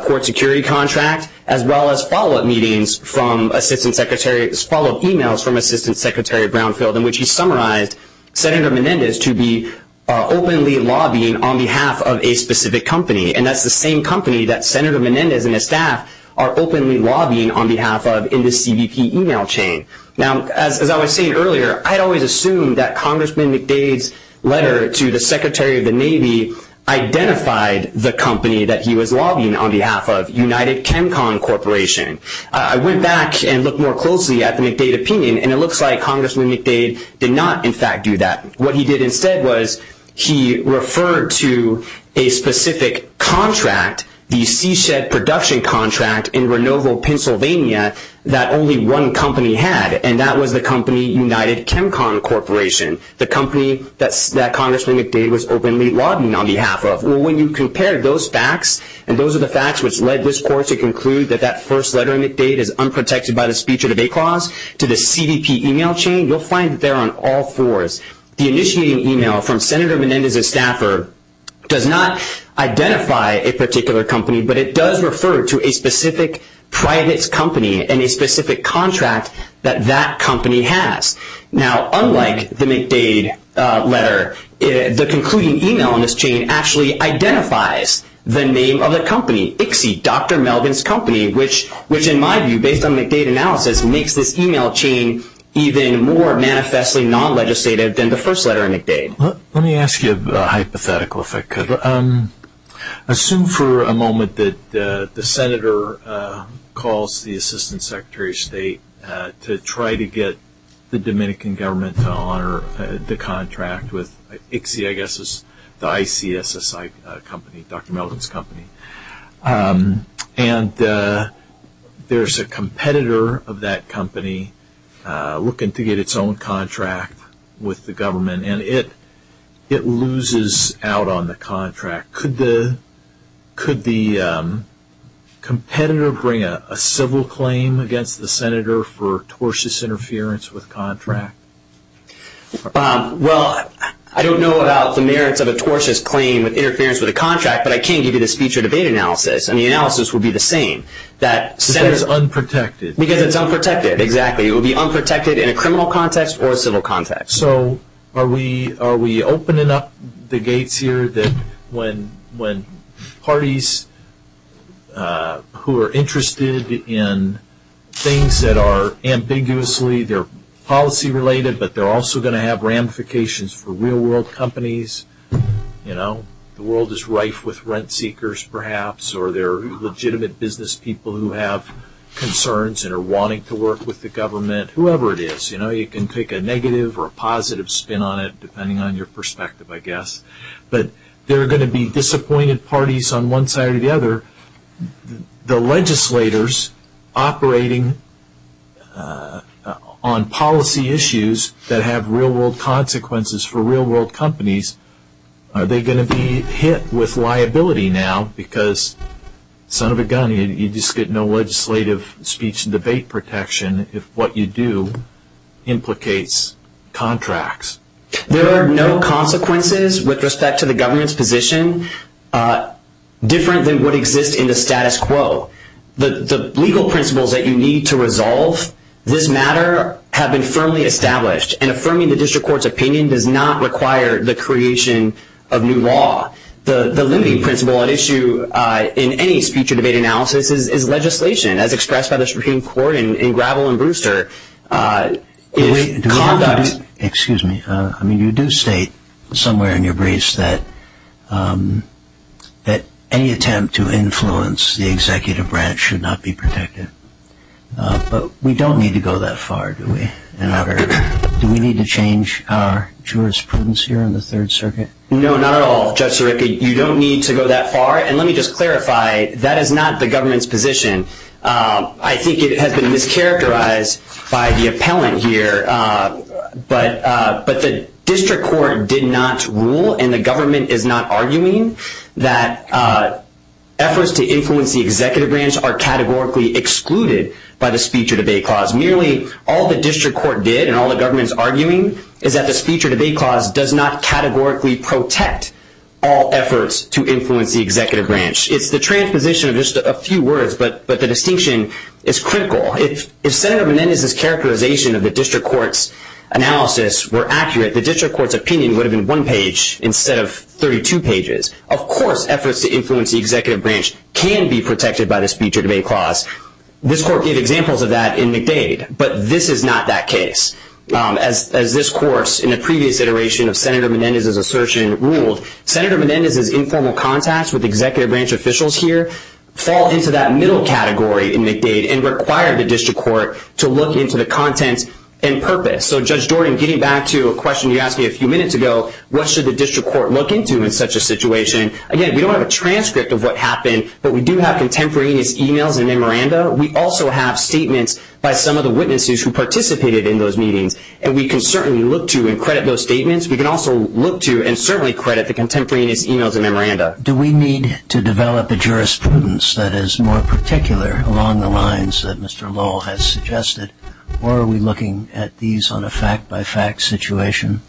court security contract, as well as follow-up meetings from Assistant Secretary's follow-up e-mails from Assistant Secretary Brownfield in which he summarized Senator Menendez to be openly lobbying on behalf of a specific company, and that's the same company that Senator Menendez and his staff are openly lobbying on behalf of in the CBP e-mail chain. Now, as I was saying earlier, I always assumed that Congressman McDade's letter to the Secretary of the Navy identified the company that he was lobbying on behalf of, United ChemCon Corporation. I went back and looked more closely at the McDade opinion, and it looks like Congressman McDade did not, in fact, do that. What he did instead was he referred to a specific contract, the seashed production contract, in Renovo, Pennsylvania, that only one company had, and that was the company United ChemCon Corporation, the company that Congressman McDade was openly lobbying on behalf of. Well, when you compare those facts, and those are the facts which led this court to conclude that that first letter of McDade is unprotected by the speech or debate clause to the CBP e-mail chain, you'll find that they're on all fours. The initiating e-mail from Senator Menendez's staffer does not identify a particular company, but it does refer to a specific private company and a specific contract that that company has. Now, unlike the McDade letter, the concluding e-mail on this chain actually identifies the name of the company, ICSI, Dr. Melvin's Company, which, in my view, based on McDade analysis, makes this e-mail chain even more manifestly non-legislative than the first letter of McDade. Let me ask you a hypothetical, if I could. Assume for a moment that the senator calls the assistant secretary of state to try to get the Dominican government to honor the contract with ICSI, I guess it's the ICSI company, Dr. Melvin's Company, and there's a competitor of that company looking to get its own contract with the government, and it loses out on the contract. Could the competitor bring a civil claim against the senator for tortious interference with contract? Well, I don't know about the merits of a tortious claim with interference with a contract, but I can give you the speech or debate analysis, and the analysis would be the same. Because it's unprotected. Because it's unprotected, exactly. It would be unprotected in a criminal context or a civil context. So are we opening up the gates here that when parties who are interested in things that are ambiguously, they're policy-related, but they're also going to have ramifications for real-world companies, you know. The world is rife with rent-seekers, perhaps, or they're legitimate business people who have concerns and are wanting to work with the government, whoever it is. You know, you can take a negative or a positive spin on it, depending on your perspective, I guess. But there are going to be disappointed parties on one side or the other. The legislators operating on policy issues that have real-world consequences for real-world companies, are they going to be hit with liability now because, son of a gun, you just get no legislative speech and debate protection if what you do implicates contracts? There are no consequences with respect to the government's position. Differently would exist in the status quo. The legal principles that you need to resolve this matter have been firmly established, and affirming the district court's opinion does not require the creation of new law. The limiting principle at issue in any speech and debate analysis is legislation, as expressed by the Supreme Court in Gravel and Brewster. Excuse me. I mean, you do state somewhere in your briefs that any attempt to influence the executive branch should not be protected. But we don't need to go that far, do we? Do we need to change our jurisprudence here in the Third Circuit? No, not at all, Judge Sirica. You don't need to go that far. And let me just clarify, that is not the government's position. I think it has been mischaracterized by the appellant here, but the district court did not rule and the government is not arguing that efforts to influence the executive branch are categorically excluded by the speech or debate clause. Nearly all the district court did, and all the government is arguing, is that the speech or debate clause does not categorically protect all efforts to influence the executive branch. It's the transposition of just a few words, but the distinction is critical. If Senator Menendez's characterization of the district court's analysis were accurate, the district court's opinion would have been one page instead of 32 pages. Of course, efforts to influence the executive branch can be protected by the speech or debate clause. This court gave examples of that in McDade, but this is not that case. As this course in a previous iteration of Senator Menendez's assertion ruled, Senator Menendez's informal contacts with executive branch officials here fall into that middle category in McDade and require the district court to look into the content and purpose. So, Judge Jordan, getting back to a question you asked me a few minutes ago, what should the district court look into in such a situation? Again, we don't have a transcript of what happened, but we do have contemporaneous e-mails and memoranda. We also have statements by some of the witnesses who participated in those meetings, and we can certainly look to and credit those statements. We can also look to and certainly credit the contemporaneous e-mails and memoranda. Do we need to develop a jurisprudence that is more particular along the lines that Mr. Lowell has suggested, or are we looking at these on a fact-by-fact situation,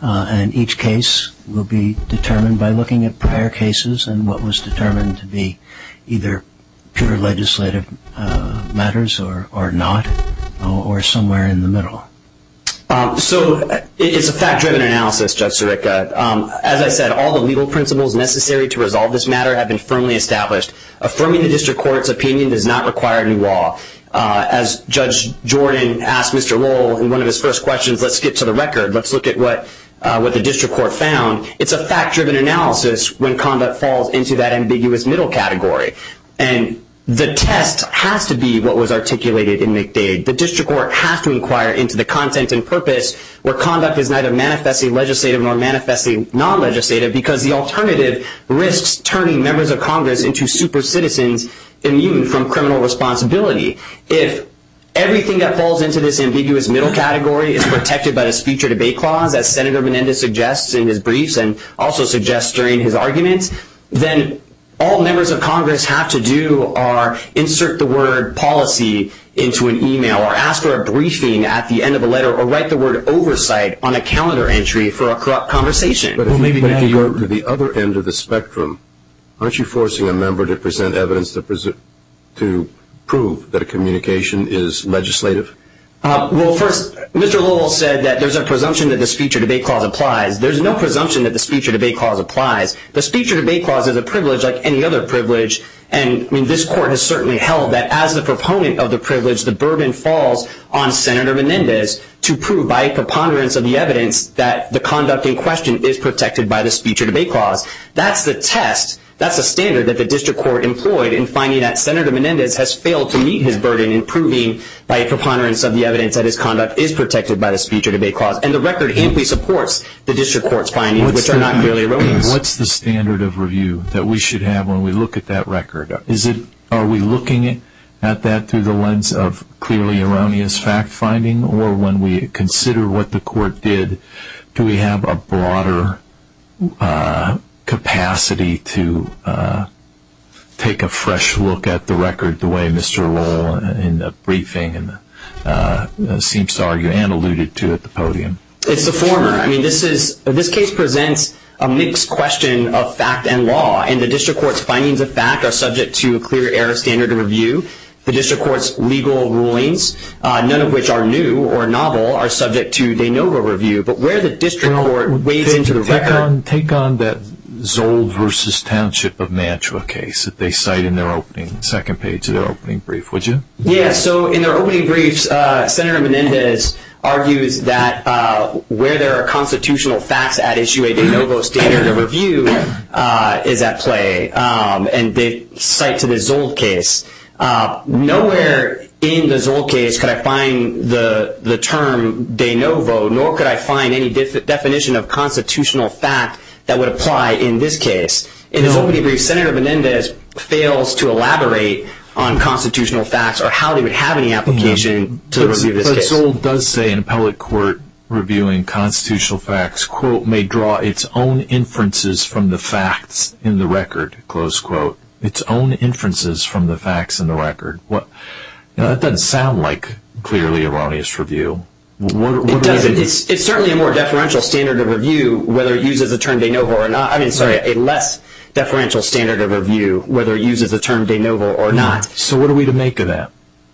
and each case will be determined by looking at prior cases and what was determined to be either pure legislative matters or not, or somewhere in the middle? So, it's a fact-driven analysis, Judge Sirica. As I said, all the legal principles necessary to resolve this matter have been firmly established. Affirming the district court's opinion does not require new law. As Judge Jordan asked Mr. Lowell in one of his first questions, let's get to the record. Let's look at what the district court found. It's a fact-driven analysis when conduct falls into that ambiguous middle category, and the test has to be what was articulated in McDade. The district court has to inquire into the content and purpose where conduct is neither manifestly legislative nor manifestly non-legislative because the alternative risks turning members of Congress into super-citizens immune from criminal responsibility. If everything that falls into this ambiguous middle category is protected by a speech or debate clause that Senator Menendez suggests in his briefs and also suggests during his argument, then all members of Congress have to do are insert the word policy into an e-mail or ask for a briefing at the end of a letter or write the word oversight on a calendar entry for a conversation. To the other end of the spectrum, aren't you forcing a member to present evidence to prove that a communication is legislative? Well, first, Mr. Lowell said that there's a presumption that the speech or debate clause applies. There's no presumption that the speech or debate clause applies. The speech or debate clause is a privilege like any other privilege, and this court has certainly held that as the proponent of the privilege, the burden falls on Senator Menendez to prove by preponderance of the evidence that the conduct in question is protected by the speech or debate clause. That's the test. That's the standard that the district court employed in finding that Senator Menendez has failed to meet his burden in proving by preponderance of the evidence that his conduct is protected by the speech or debate clause, and the record simply supports the district court's findings, which are not merely erroneous. What's the standard of review that we should have when we look at that record? Are we looking at that through the lens of clearly erroneous fact-finding or when we consider what the court did, do we have a broader capacity to take a fresh look at the record the way Mr. Lowell in the briefing seems to argue and alluded to at the podium? It's the former. I mean, this case presents a mixed question of fact and law, and the district court's findings of fact are subject to a clear error standard of review. The district court's legal rulings, none of which are new or novel, are subject to de novo review, but where the district court weighed into the record – Take on the Zold versus Township of Nantua case that they cite in their opening, second page of their opening brief, would you? Yeah. So in their opening brief, Senator Menendez argued that where there are constitutional facts at issue, the de novo standard of review is at play, and they cite to the Zold case. Nowhere in the Zold case could I find the term de novo, nor could I find any definition of constitutional fact that would apply in this case. In the opening brief, Senator Menendez fails to elaborate on constitutional facts or how they would have any application to review this case. Zold does say in appellate court reviewing constitutional facts, quote, may draw its own inferences from the facts in the record, close quote, its own inferences from the facts in the record. That doesn't sound like clearly erroneous review. It's certainly a more deferential standard of review whether it uses the term de novo or not. I mean, sorry, a less deferential standard of review whether it uses the term de novo or not. So what are we to make of that?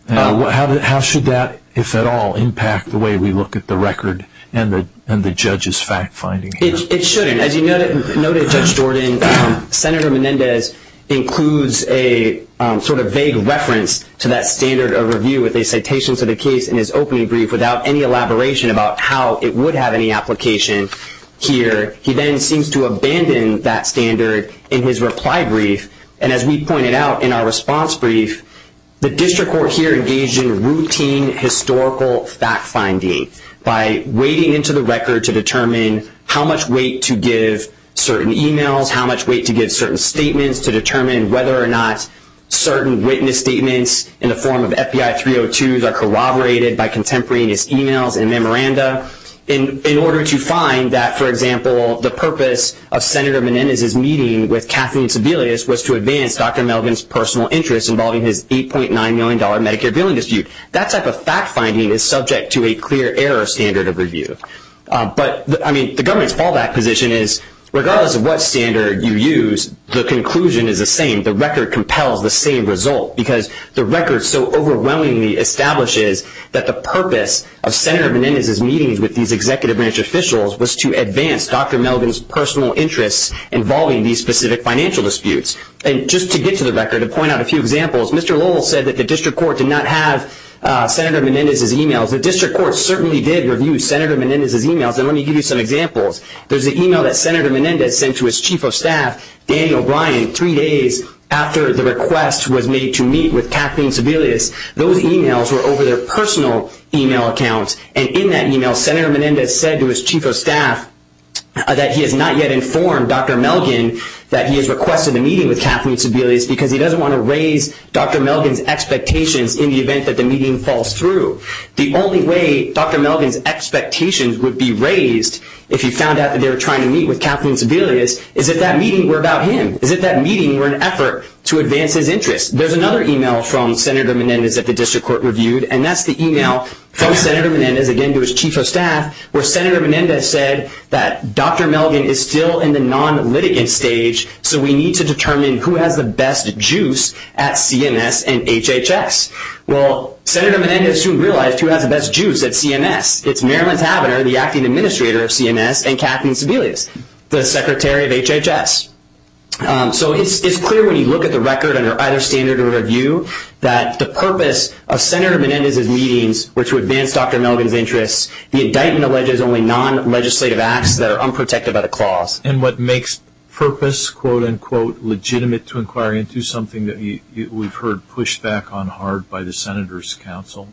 How should that, if at all, impact the way we look at the record and the judge's fact finding? It shouldn't. As you noted, Judge Jordan, Senator Menendez includes a sort of vague reference to that standard of review with a citation for the case in his opening brief without any elaboration about how it would have any application here. He then seems to abandon that standard in his reply brief, and as we pointed out in our response brief, the district court here engaged in routine historical fact finding by wading into the record to determine how much weight to give certain e-mails, how much weight to give certain statements to determine whether or not certain witness statements in the form of FBI 302s are corroborated by contemporary e-mails the purpose of Senator Menendez's meeting with Kathleen Sebelius was to advance Dr. Melvin's personal interest involving his $8.9 million Medicare billing dispute. That type of fact finding is subject to a clear error standard of review. But, I mean, the government's fallback position is regardless of what standard you use, the conclusion is the same, the record compels the same result, because the record so overwhelmingly establishes that the purpose of Senator Menendez's meeting with these executive branch officials was to advance Dr. Melvin's personal interest involving these specific financial disputes. And just to get to the record and point out a few examples, Mr. Lowell said that the district court did not have Senator Menendez's e-mails. The district court certainly did review Senator Menendez's e-mails, and let me give you some examples. There's the e-mail that Senator Menendez sent to his chief of staff, Daniel Bryan, three days after the request was made to meet with Kathleen Sebelius. Those e-mails were over their personal e-mail accounts, and in that e-mail, Senator Menendez said to his chief of staff that he has not yet informed Dr. Melvin that he has requested a meeting with Kathleen Sebelius because he doesn't want to raise Dr. Melvin's expectations in the event that the meeting falls through. The only way Dr. Melvin's expectations would be raised if he found out that they were trying to meet with Kathleen Sebelius is if that meeting were about him, is if that meeting were an effort to advance his interest. There's another e-mail from Senator Menendez that the district court reviewed, and that's the e-mail from Senator Menendez, again, to his chief of staff, where Senator Menendez said that Dr. Melvin is still in the non-litigant stage, so we need to determine who has the best juice at CMS and HHS. Well, Senator Menendez didn't realize who had the best juice at CMS. It's Marilyn Tavenner, the acting administrator at CMS, and Kathleen Sebelius, the secretary of HHS. So it's clear when you look at the record under either standard or review that the purpose of Senator Menendez's meetings were to advance Dr. Melvin's interests. The indictment alleges only non-legislative acts that are unprotective of the clause. And what makes purpose, quote-unquote, legitimate to inquire into is something that we've heard pushed back on hard by the Senator's counsel.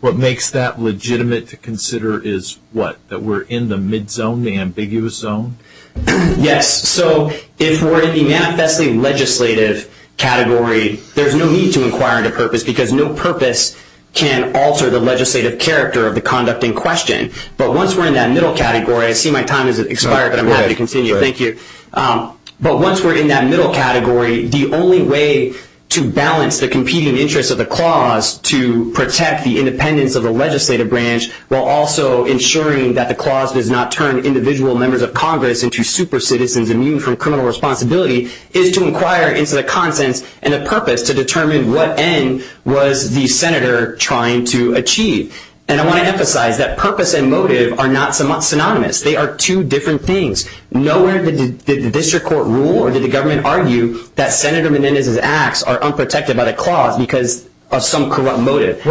What makes that legitimate to consider is what? That we're in the mid-zone, the ambiguous zone? Yes. So if we're in the manifestly legislative category, there's no need to inquire into purpose, because no purpose can alter the legislative character of the conduct in question. But once we're in that middle category, I see my time has expired, but I'm happy to continue. Thank you. But once we're in that middle category, the only way to balance the competing interests of the clause to protect the independence of the legislative branch while also ensuring that the clause does not turn individual members of Congress into super citizens immune from criminal responsibility is to inquire into the content and the purpose to determine what end was the Senator trying to achieve. And I want to emphasize that purpose and motive are not synonymous. They are two different things. Nowhere did the district court rule or did the government argue that Senator Menendez's acts are unprotected by the clause because of some corrupt motive?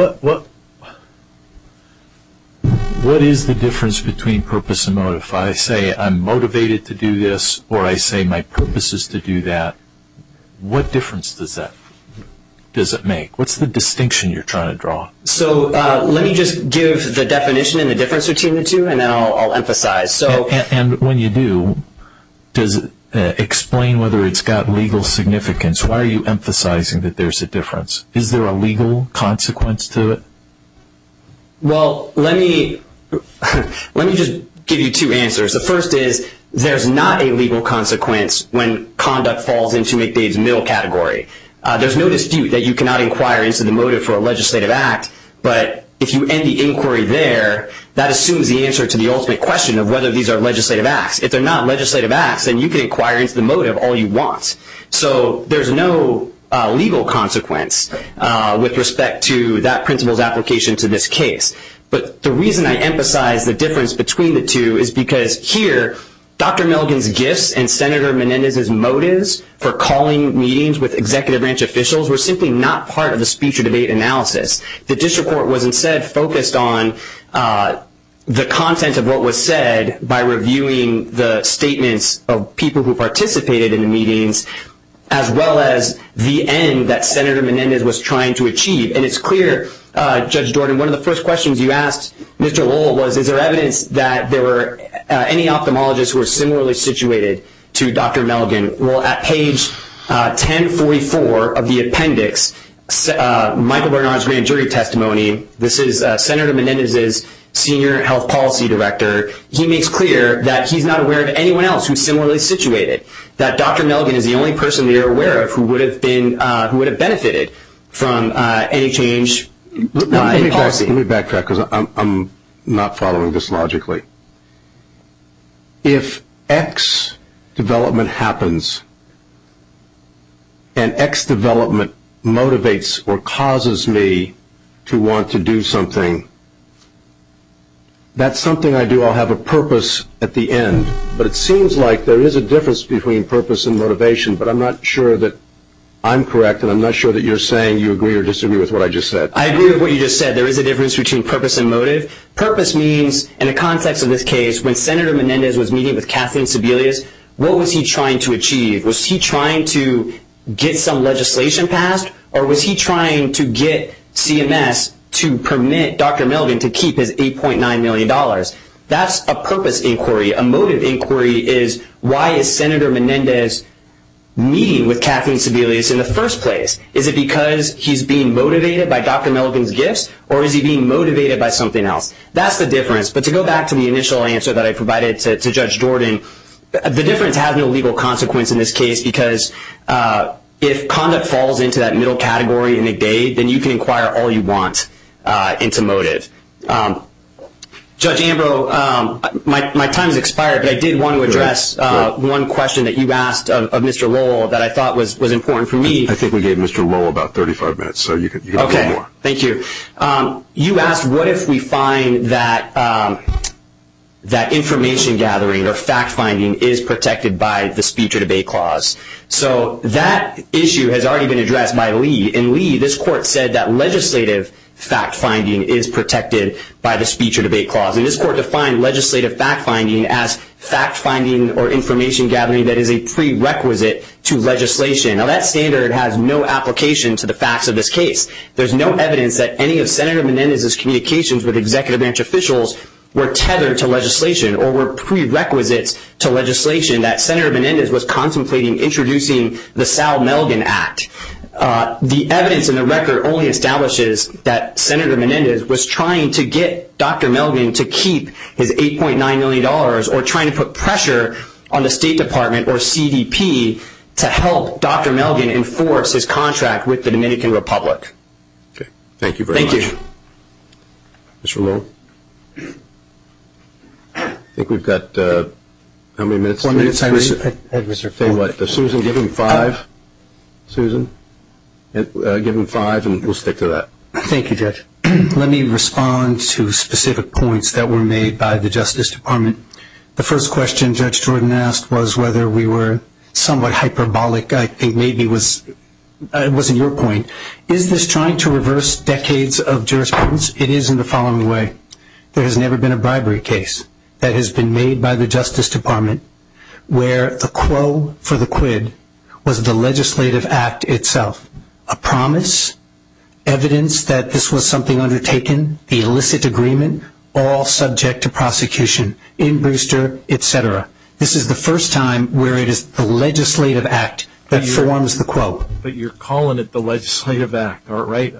What is the difference between purpose and motive? If I say I'm motivated to do this or I say my purpose is to do that, what difference does that make? What's the distinction you're trying to draw? So let me just give the definition and the difference between the two, and then I'll emphasize. And when you do, explain whether it's got legal significance. Why are you emphasizing that there's a difference? Is there a legal consequence to it? Well, let me just give you two answers. The first is there's not a legal consequence when conduct falls into McVeigh's middle category. There's no dispute that you cannot inquire into the motive for a legislative act, but if you end the inquiry there, that assumes the answer to the ultimate question of whether these are legislative acts. If they're not legislative acts, then you can inquire into the motive all you want. So there's no legal consequence with respect to that principle's application to this case. But the reason I emphasize the difference between the two is because here, Dr. Milligan's gist and Senator Menendez's motives for calling meetings with executive branch officials were simply not part of the speech or debate analysis. The district court was instead focused on the content of what was said by reviewing the statements of people who participated in the meetings as well as the end that Senator Menendez was trying to achieve. And it's clear, Judge Jordan, one of the first questions you asked Mr. Lowell was is there evidence that there were any ophthalmologists who were similarly situated to Dr. Milligan? Well, at page 1034 of the appendix, Michael Bernards' grand jury testimony, this is Senator Menendez's senior health policy director. He makes clear that he's not aware of anyone else who's similarly situated, that Dr. Milligan is the only person that you're aware of who would have benefited from any change. Let me backtrack because I'm not following this logically. If X development happens and X development motivates or causes me to want to do something, that's something I do. I'll have a purpose at the end. But it seems like there is a difference between purpose and motivation, but I'm not sure that I'm correct and I'm not sure that you're saying you agree or disagree with what I just said. I agree with what you just said. There is a difference between purpose and motive. Purpose means in the context of this case, when Senator Menendez was meeting with Kathleen Sebelius, what was he trying to achieve? Was he trying to get some legislation passed, or was he trying to get CMS to permit Dr. Milligan to keep his $8.9 million? That's a purpose inquiry. A motive inquiry is why is Senator Menendez meeting with Kathleen Sebelius in the first place? Is it because he's being motivated by Dr. Milligan's gifts, or is he being motivated by something else? That's the difference. But to go back to the initial answer that I provided to Judge Jordan, the difference has a legal consequence in this case because if conduct falls into that middle category and it does, then you can inquire all you want into motive. Judge Ambrose, my time has expired, but I did want to address one question that you asked of Mr. Lowell that I thought was important for me. I think we gave Mr. Lowell about 35 minutes, so you can go on. Okay. Thank you. You asked what if we find that information gathering or fact-finding is protected by the speech or debate clause. So that issue has already been addressed by Lee, and Lee, this court said that legislative fact-finding is protected by the speech or debate clause. And this court defined legislative fact-finding as fact-finding or information gathering that is a prerequisite to legislation. Now, that standard has no application to the facts of this case. There's no evidence that any of Senator Menendez's communications with executive branch officials were tethered to legislation or were prerequisites to legislation that Senator Menendez was contemplating introducing the Sal Melgen Act. The evidence in the record only establishes that Senator Menendez was trying to get Dr. Melgen to keep his $8.9 million or trying to put pressure on the State Department or CDP to help Dr. Melgen enforce his contract with the Dominican Republic. Okay. Thank you very much. Thank you. Mr. Lowell? I think we've got how many minutes? One minute, Siree. Susan, give him five. Thank you, Judge. Let me respond to specific points that were made by the Justice Department. The first question Judge Jordan asked was whether we were somewhat hyperbolic. I think maybe it wasn't your point. Is this trying to reverse decades of jurisprudence? It is in the following way. There has never been a bribery case that has been made by the Justice Department where the quote for the quid was the legislative act itself. A promise, evidence that this was something undertaken, the illicit agreement, all subject to prosecution, in Brewster, etc. This is the first time where it is the legislative act that forms the quote. But you're calling it the legislative act, right?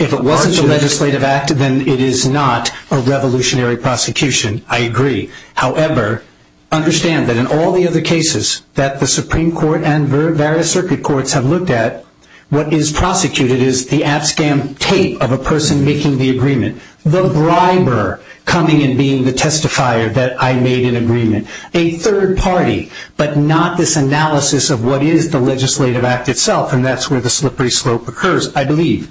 If it wasn't the legislative act, then it is not a revolutionary prosecution. I agree. However, understand that in all the other cases that the Supreme Court and various circuit courts have looked at, what is prosecuted is the abscam tape of a person making the agreement, the briber coming and being the testifier that I made an agreement. A third party, but not this analysis of what is the legislative act itself, and that's where the slippery slope occurs, I believe.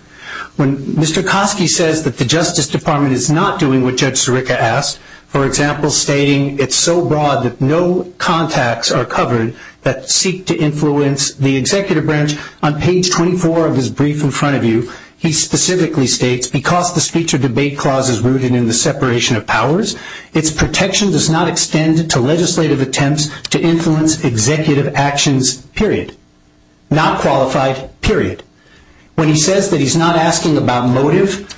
When Mr. Kosky says that the Justice Department is not doing what Judge Sirica asked, for example, stating it's so broad that no contacts are covered that seek to influence the executive branch, on page 24 of his brief in front of you, he specifically states, because the speech or debate clause is rooted in the separation of powers, its protection does not extend to legislative attempts to influence executive actions, period. Not qualified, period. When he says that he's not asking about motive,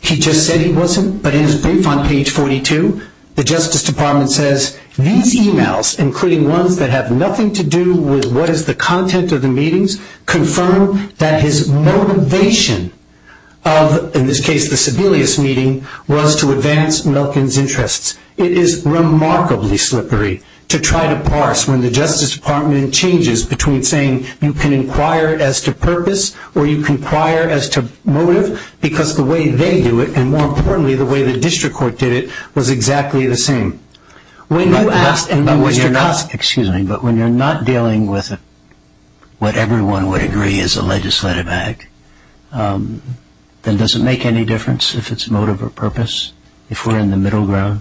he just said he wasn't, but in his brief on page 42, the Justice Department says these e-mails, including ones that have nothing to do with what is the content of the meetings, confirm that his motivation of, in this case, the Sebelius meeting, was to advance Milton's interests. It is remarkably slippery to try to parse when the Justice Department changes between saying you can inquire as to purpose or you can inquire as to motive, because the way they do it, and more importantly, the way the district court did it, was exactly the same. When you ask about what you're not, excuse me, but when you're not dealing with what everyone would agree is a legislative act, then does it make any difference if it's motive or purpose, if we're in the middle ground?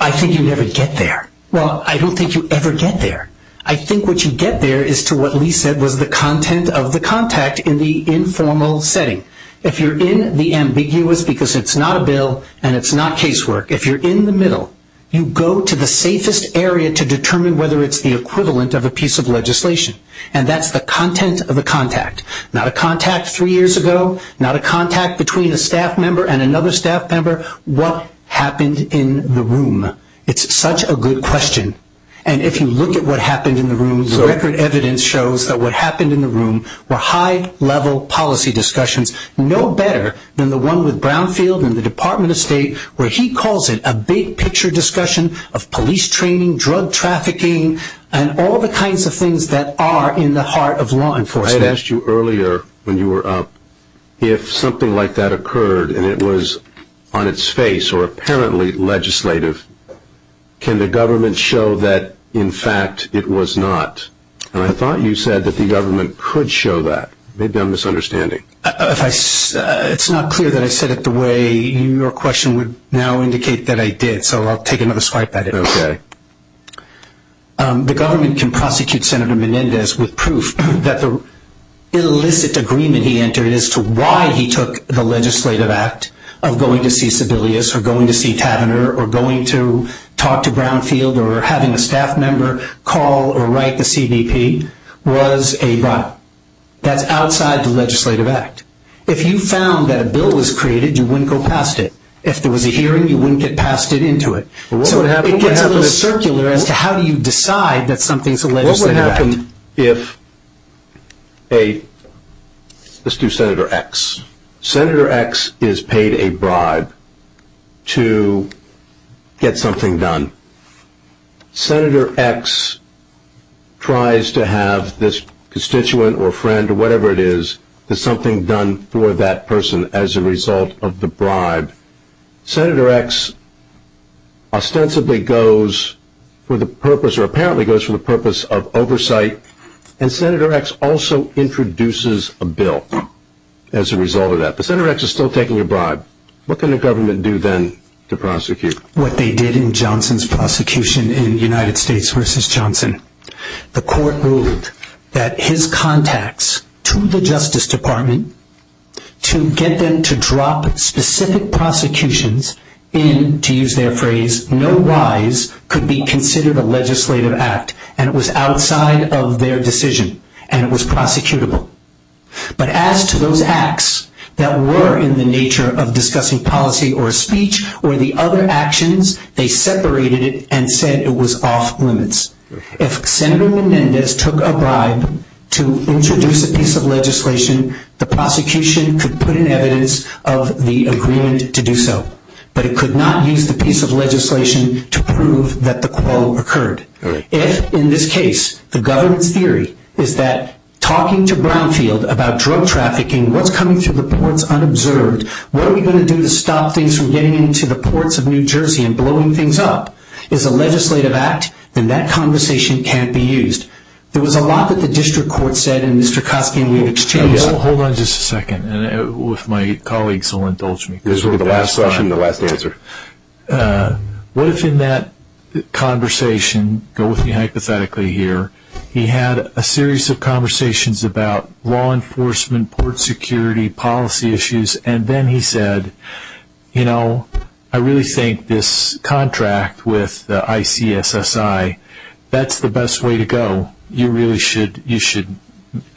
I think you never get there. Well, I don't think you ever get there. I think what you get there is to what Lee said was the content of the contact in the informal setting. If you're in the ambiguous, because it's not a bill and it's not casework, if you're in the middle, you go to the safest area to determine whether it's the equivalent of a piece of legislation, and that's the content of a contact. Not a contact three years ago, not a contact between a staff member and another staff member, what happened in the room? It's such a good question. And if you look at what happened in the room, the record evidence shows that what happened in the room were high-level policy discussions, no better than the one with Brownfield and the Department of State, where he calls it a big-picture discussion of police training, drug trafficking, and all the kinds of things that are in the heart of law enforcement. I had asked you earlier when you were up, if something like that occurred and it was on its face or apparently legislative, can the government show that, in fact, it was not? And I thought you said that the government could show that. They've done misunderstanding. It's not clear that I said it the way your question would now indicate that I did, so I'll take another swipe at it. The government can prosecute Senator Menendez with proof that the illicit agreement he entered as to why he took the legislative act of going to see Sebelius or going to see Tavenner or going to talk to Brownfield or having a staff member call or write the CBP was a lie. That's outside the legislative act. If you found that a bill was created, you wouldn't go past it. If there was a hearing, you wouldn't get past it into it. So it can have a circular as to how you decide that something is a legislative act. Let's do Senator X. Senator X is paid a bribe to get something done. Senator X tries to have this constituent or friend or whatever it is, get something done for that person as a result of the bribe. Senator X ostensibly goes for the purpose or apparently goes for the purpose of oversight, and Senator X also introduces a bill as a result of that. But Senator X is still taking a bribe. What can the government do then to prosecute? What they did in Johnson's prosecution in the United States versus Johnson. The court ruled that his contacts to the Justice Department to get them to drop specific prosecutions in, to use their phrase, no lies could be considered a legislative act, and it was outside of their decision, and it was prosecutable. But as to those acts that were in the nature of discussing policy or speech or the other actions, they separated it and said it was off limits. If Senator Menendez took a bribe to introduce a piece of legislation, the prosecution could put in evidence of the agreement to do so, but it could not use the piece of legislation to prove that the quote occurred. If in this case the government's theory is that talking to Brownfield about drug trafficking, what's coming to the courts unobserved, what are we going to do to stop things from getting into the ports of New Jersey and blowing things up is a legislative act, then that conversation can't be used. There was a lot that the district court said, and Mr. Kofke, we exchanged it. Hold on just a second, and if my colleagues will indulge me. This will be the last question and the last answer. What if in that conversation, go with me hypothetically here, he had a series of conversations about law enforcement, port security, policy issues, and then he said, you know, I really think this contract with the ICSSI, that's the best way to go. You really should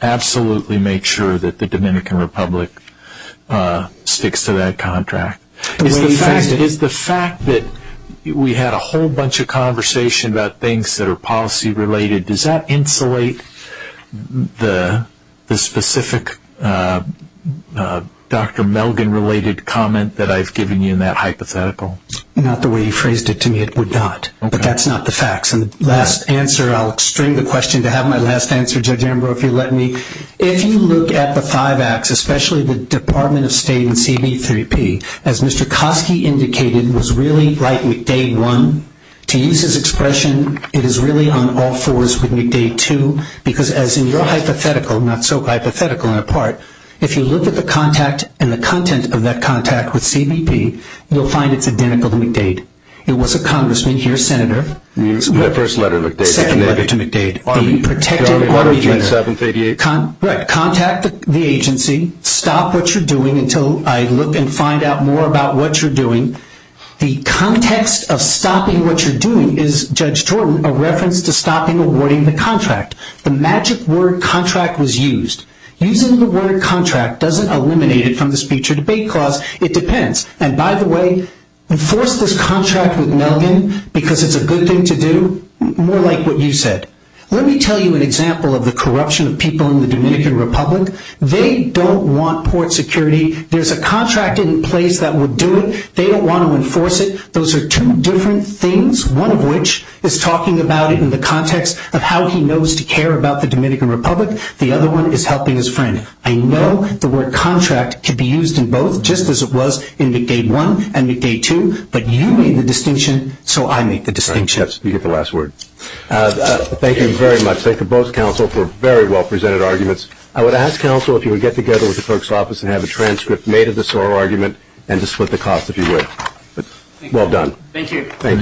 absolutely make sure that the Dominican Republic sticks to that contract. If the fact that we had a whole bunch of conversation about things that are policy-related, does that insulate the specific Dr. Melgen-related comment that I've given you in that hypothetical? Not the way you phrased it to me, it would not. But that's not the facts. And the last answer, I'll extend the question to have my last answer, Judge Amber, if you'll let me. If you look at the five acts, especially the Department of State and CB3P, as Mr. Kofke indicated, was really right with day one. To use his expression, it is really on all fours with week day two, because as in your hypothetical, not so hypothetical in a part, if you look at the contact and the content of that contact with CBP, you'll find it's identical to week date. It was a congressman. He was a senator. The first letter of the day. The second letter of the day. The protected order. 738. Right. Contact the agency. Stop what you're doing until I look and find out more about what you're doing. The context of stopping what you're doing is, Judge Torton, a reference to stopping awarding the contract. The magic word contract was used. Using the word contract doesn't eliminate it from the speech or debate clause. It depends. And, by the way, enforce this contract with Melvin because it's a good thing to do, more like what you said. Let me tell you an example of the corruption of people in the Dominican Republic. They don't want port security. There's a contract in place that would do it. They don't want to enforce it. Those are two different things, one of which is talking about it in the context of how he knows to care about the Dominican Republic. The other one is helping his friend. I know the word contract can be used in both, just as it was in McDade 1 and McDade 2, but you made the distinction, so I make the distinction. You get the last word. Thank you very much. Thank you both, counsel, for very well-presented arguments. I would ask, counsel, if you would get together with the clerk's office and have a transcript made of this oral argument and to split the cost if you would. Well done. Thank you.